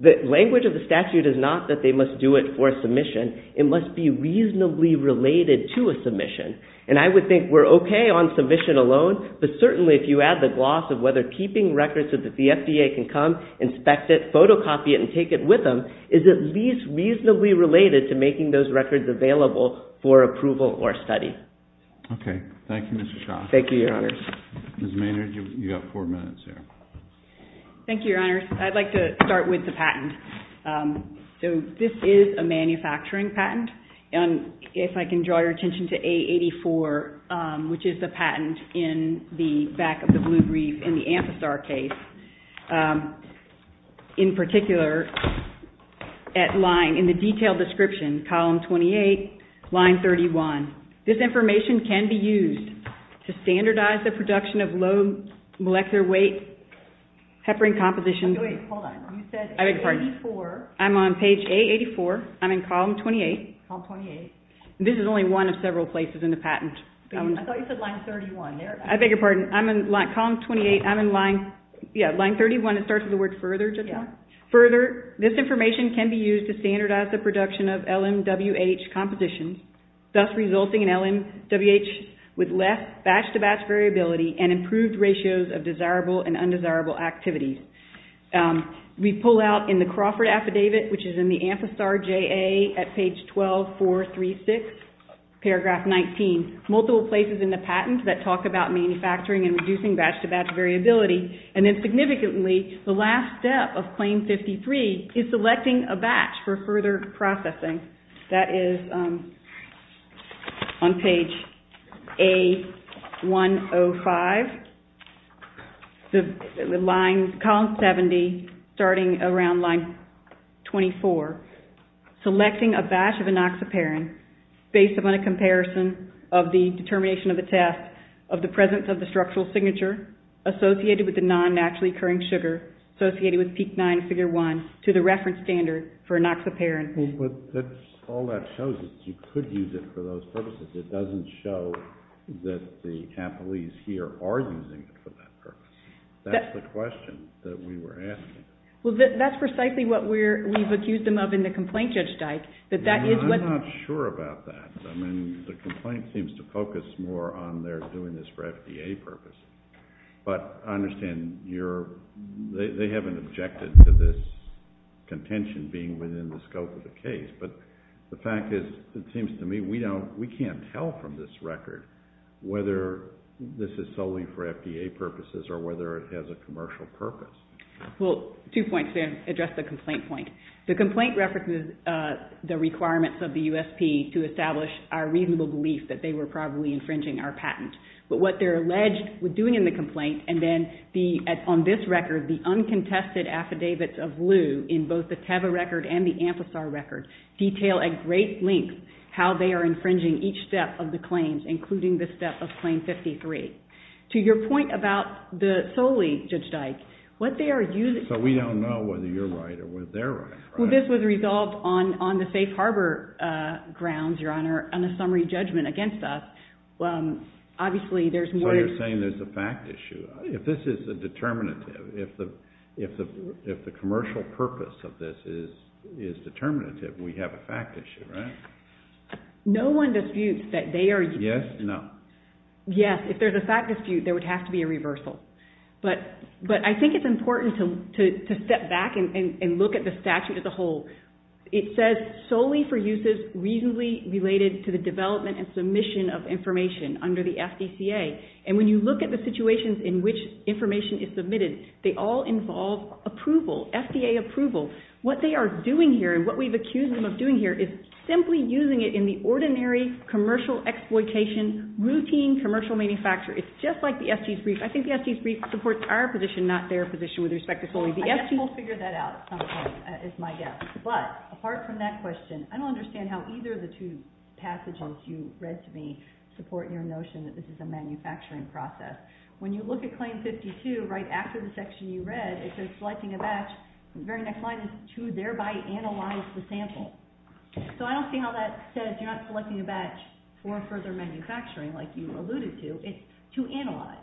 the language of the statute is not that they must do it for submission. It must be reasonably related to a submission. I would think we're okay on submission alone, but certainly if you add the gloss of whether keeping records so that the FDA can come, inspect it, photocopy it, and take it with them is at least reasonably related to making those records available for approval or study. Okay. Thank you, Mr. Shaw. Thank you, Your Honors. Ms. Maynard, you've got four minutes here. Thank you, Your Honors. I'd like to start with the patent. So this is a manufacturing patent, and if I can draw your attention to A84, which is the patent in the back of the blue brief in the Amthasar case, in particular, at line, in the detailed description, column 28, line 31. This information can be used to standardize the production of low molecular weight heparin compositions. I beg your pardon. I'm on page A84. I'm in column 28. This is only one of several places in the patent. I beg your pardon. I'm in column 28. I'm in line 31. It starts with the word further. Further, this information can be used to standardize the production of LMWH compositions, thus resulting in LMWH with less batch-to-batch variability and improved ratios of desirable and undesirable activities. We pull out in the Crawford affidavit, which is in the Amthasar JA at page 12436, paragraph 19, multiple places in the patent that talk about manufacturing and reducing batch-to-batch variability. And then significantly, the last step of claim 53 is selecting a batch for further processing. That is on page A105. A105. The line, column 70, starting around line 24, selecting a batch of anoxaparin based upon comparison of the determination of a test of the presence of the structural signature associated with the non-naturally occurring sugar associated with Peak 9, Figure 1, to the reference standard for anoxaparin. All that shows is you could use it for those purposes. It doesn't show that the athletes here are using it for that purpose. That's the question that we were asking. That's precisely what we've accused them of in the complaint, Judge Steist. I'm not sure about that. I mean, the complaint seems to focus more on their doing this for FDA purpose. But I understand they haven't objected to this contention being within the scope of the case. But the fact is it seems to me we can't tell from this record whether this is solely for FDA purposes or whether it has a commercial purpose. Well, two points there to address the complaint point. The first is that the did not meet the requirements of the USP to establish our reasonable belief that they were probably infringing our patent. But what they're alleged to be doing in the complaint and then on this record the uncontested affidavits of Lew in both the Teva record and the Amthasar record detail at great length how they are infringing each step of the claims including the step of Claim 53. To your point about the solely, Judge Dyke, what they are using... So we don't know whether you're right or whether they're right. Well, this was resolved on the safe harbor grounds, Your Honor, on a summary judgment against us. Obviously there's more... So you're saying there's a fact issue. If this is a determinative, if the commercial purpose of this is determinative, we have a fact issue, right? No one disputes that they are using... Yes? No. Yes, if there's a fact dispute, there would have to be a reversal. But I think it's important to step back and look at the statute as a whole. It says solely for uses reasonably related to the development and submission of information under the FDCA. And when you look at the situations in which information is submitted, they all involve approval, FDA approval. What they are doing here and what we've accused them of doing here is simply using it in the ordinary commercial exploitation, routine commercial manufacture. It's just like the FD's brief. I think the FD's brief supports our position, not their position, with respect to solely the FD's... I guess we'll figure that out sometime, is my guess. But, apart from that question, I don't understand how either of the two passages you read to me support your notion that this is a manufacturing process. When you look at Claim 52, right after the section you read, it says selecting a batch, the very next line is to thereby analyze the sample. So I don't see how that says you're not selecting a batch for further manufacturing like you alluded to. It's to analyze.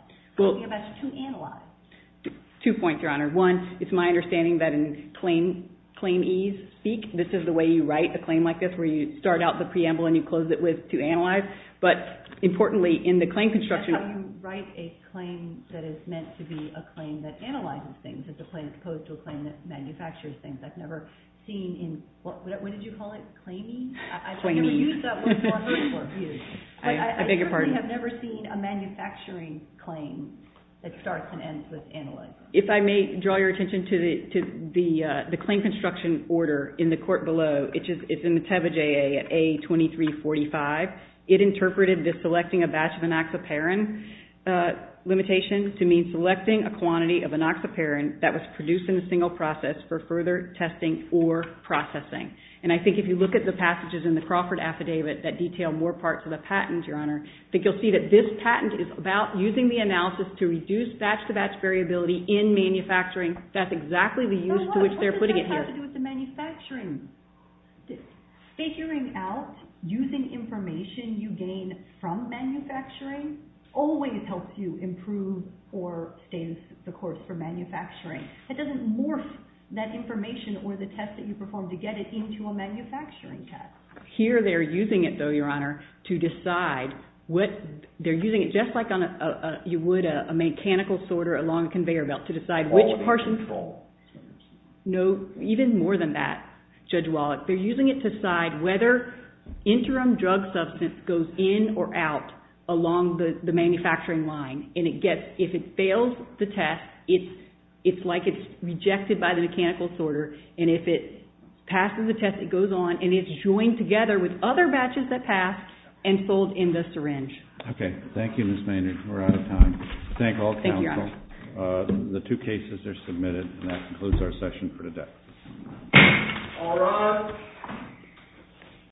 Two points, Your Honor. One, it's my understanding that in Claim E's speak, this is the way you write a claim like this, where you start out the preamble and you close it with to analyze. But, importantly, in the claim construction... How do you write a claim that is meant to be a claim that analyzes things? Is the claim opposed to a claim that manufactures things? I've never seen... What did you call it? Claiming? I've never seen a manufacturing claim that starts and ends with analyze. If I may draw your attention to the claim construction order in the court below, it's in the Teva J.A. A2345. It interpreted the selecting a batch of enoxaparin limitation to mean selecting a quantity of enoxaparin that was produced in a single process for further testing or processing. And I think if you look at the passages in the Crawford Affidavit that detail more parts of the patent, Your Honor, I think you'll see that this patent is about using the analysis to reduce batch to batch variability in manufacturing. That's exactly the use to which they're putting it here. Figuring out using information you gain from manufacturing always helps you improve or stay in the course for manufacturing. It doesn't morph that information or the test that you perform to get it into a manufacturing test. Here they're using it though, Your Honor, to decide what they're using it just like you would a mechanical sorter along a conveyor belt to decide which portion's full. Even more than that, Judge Wallach, they're using it to decide whether interim drug substance goes in or out along the manufacturing line. If it fails the test, it's like it's rejected by the mechanical sorter and if it passes the test it goes on and it's joined together with other batches that pass and sold in the syringe. Okay. Thank you, Ms. Maynard. We're out of time. Thank you, Your Honor. The two cases are submitted and that concludes our session for today. All rise.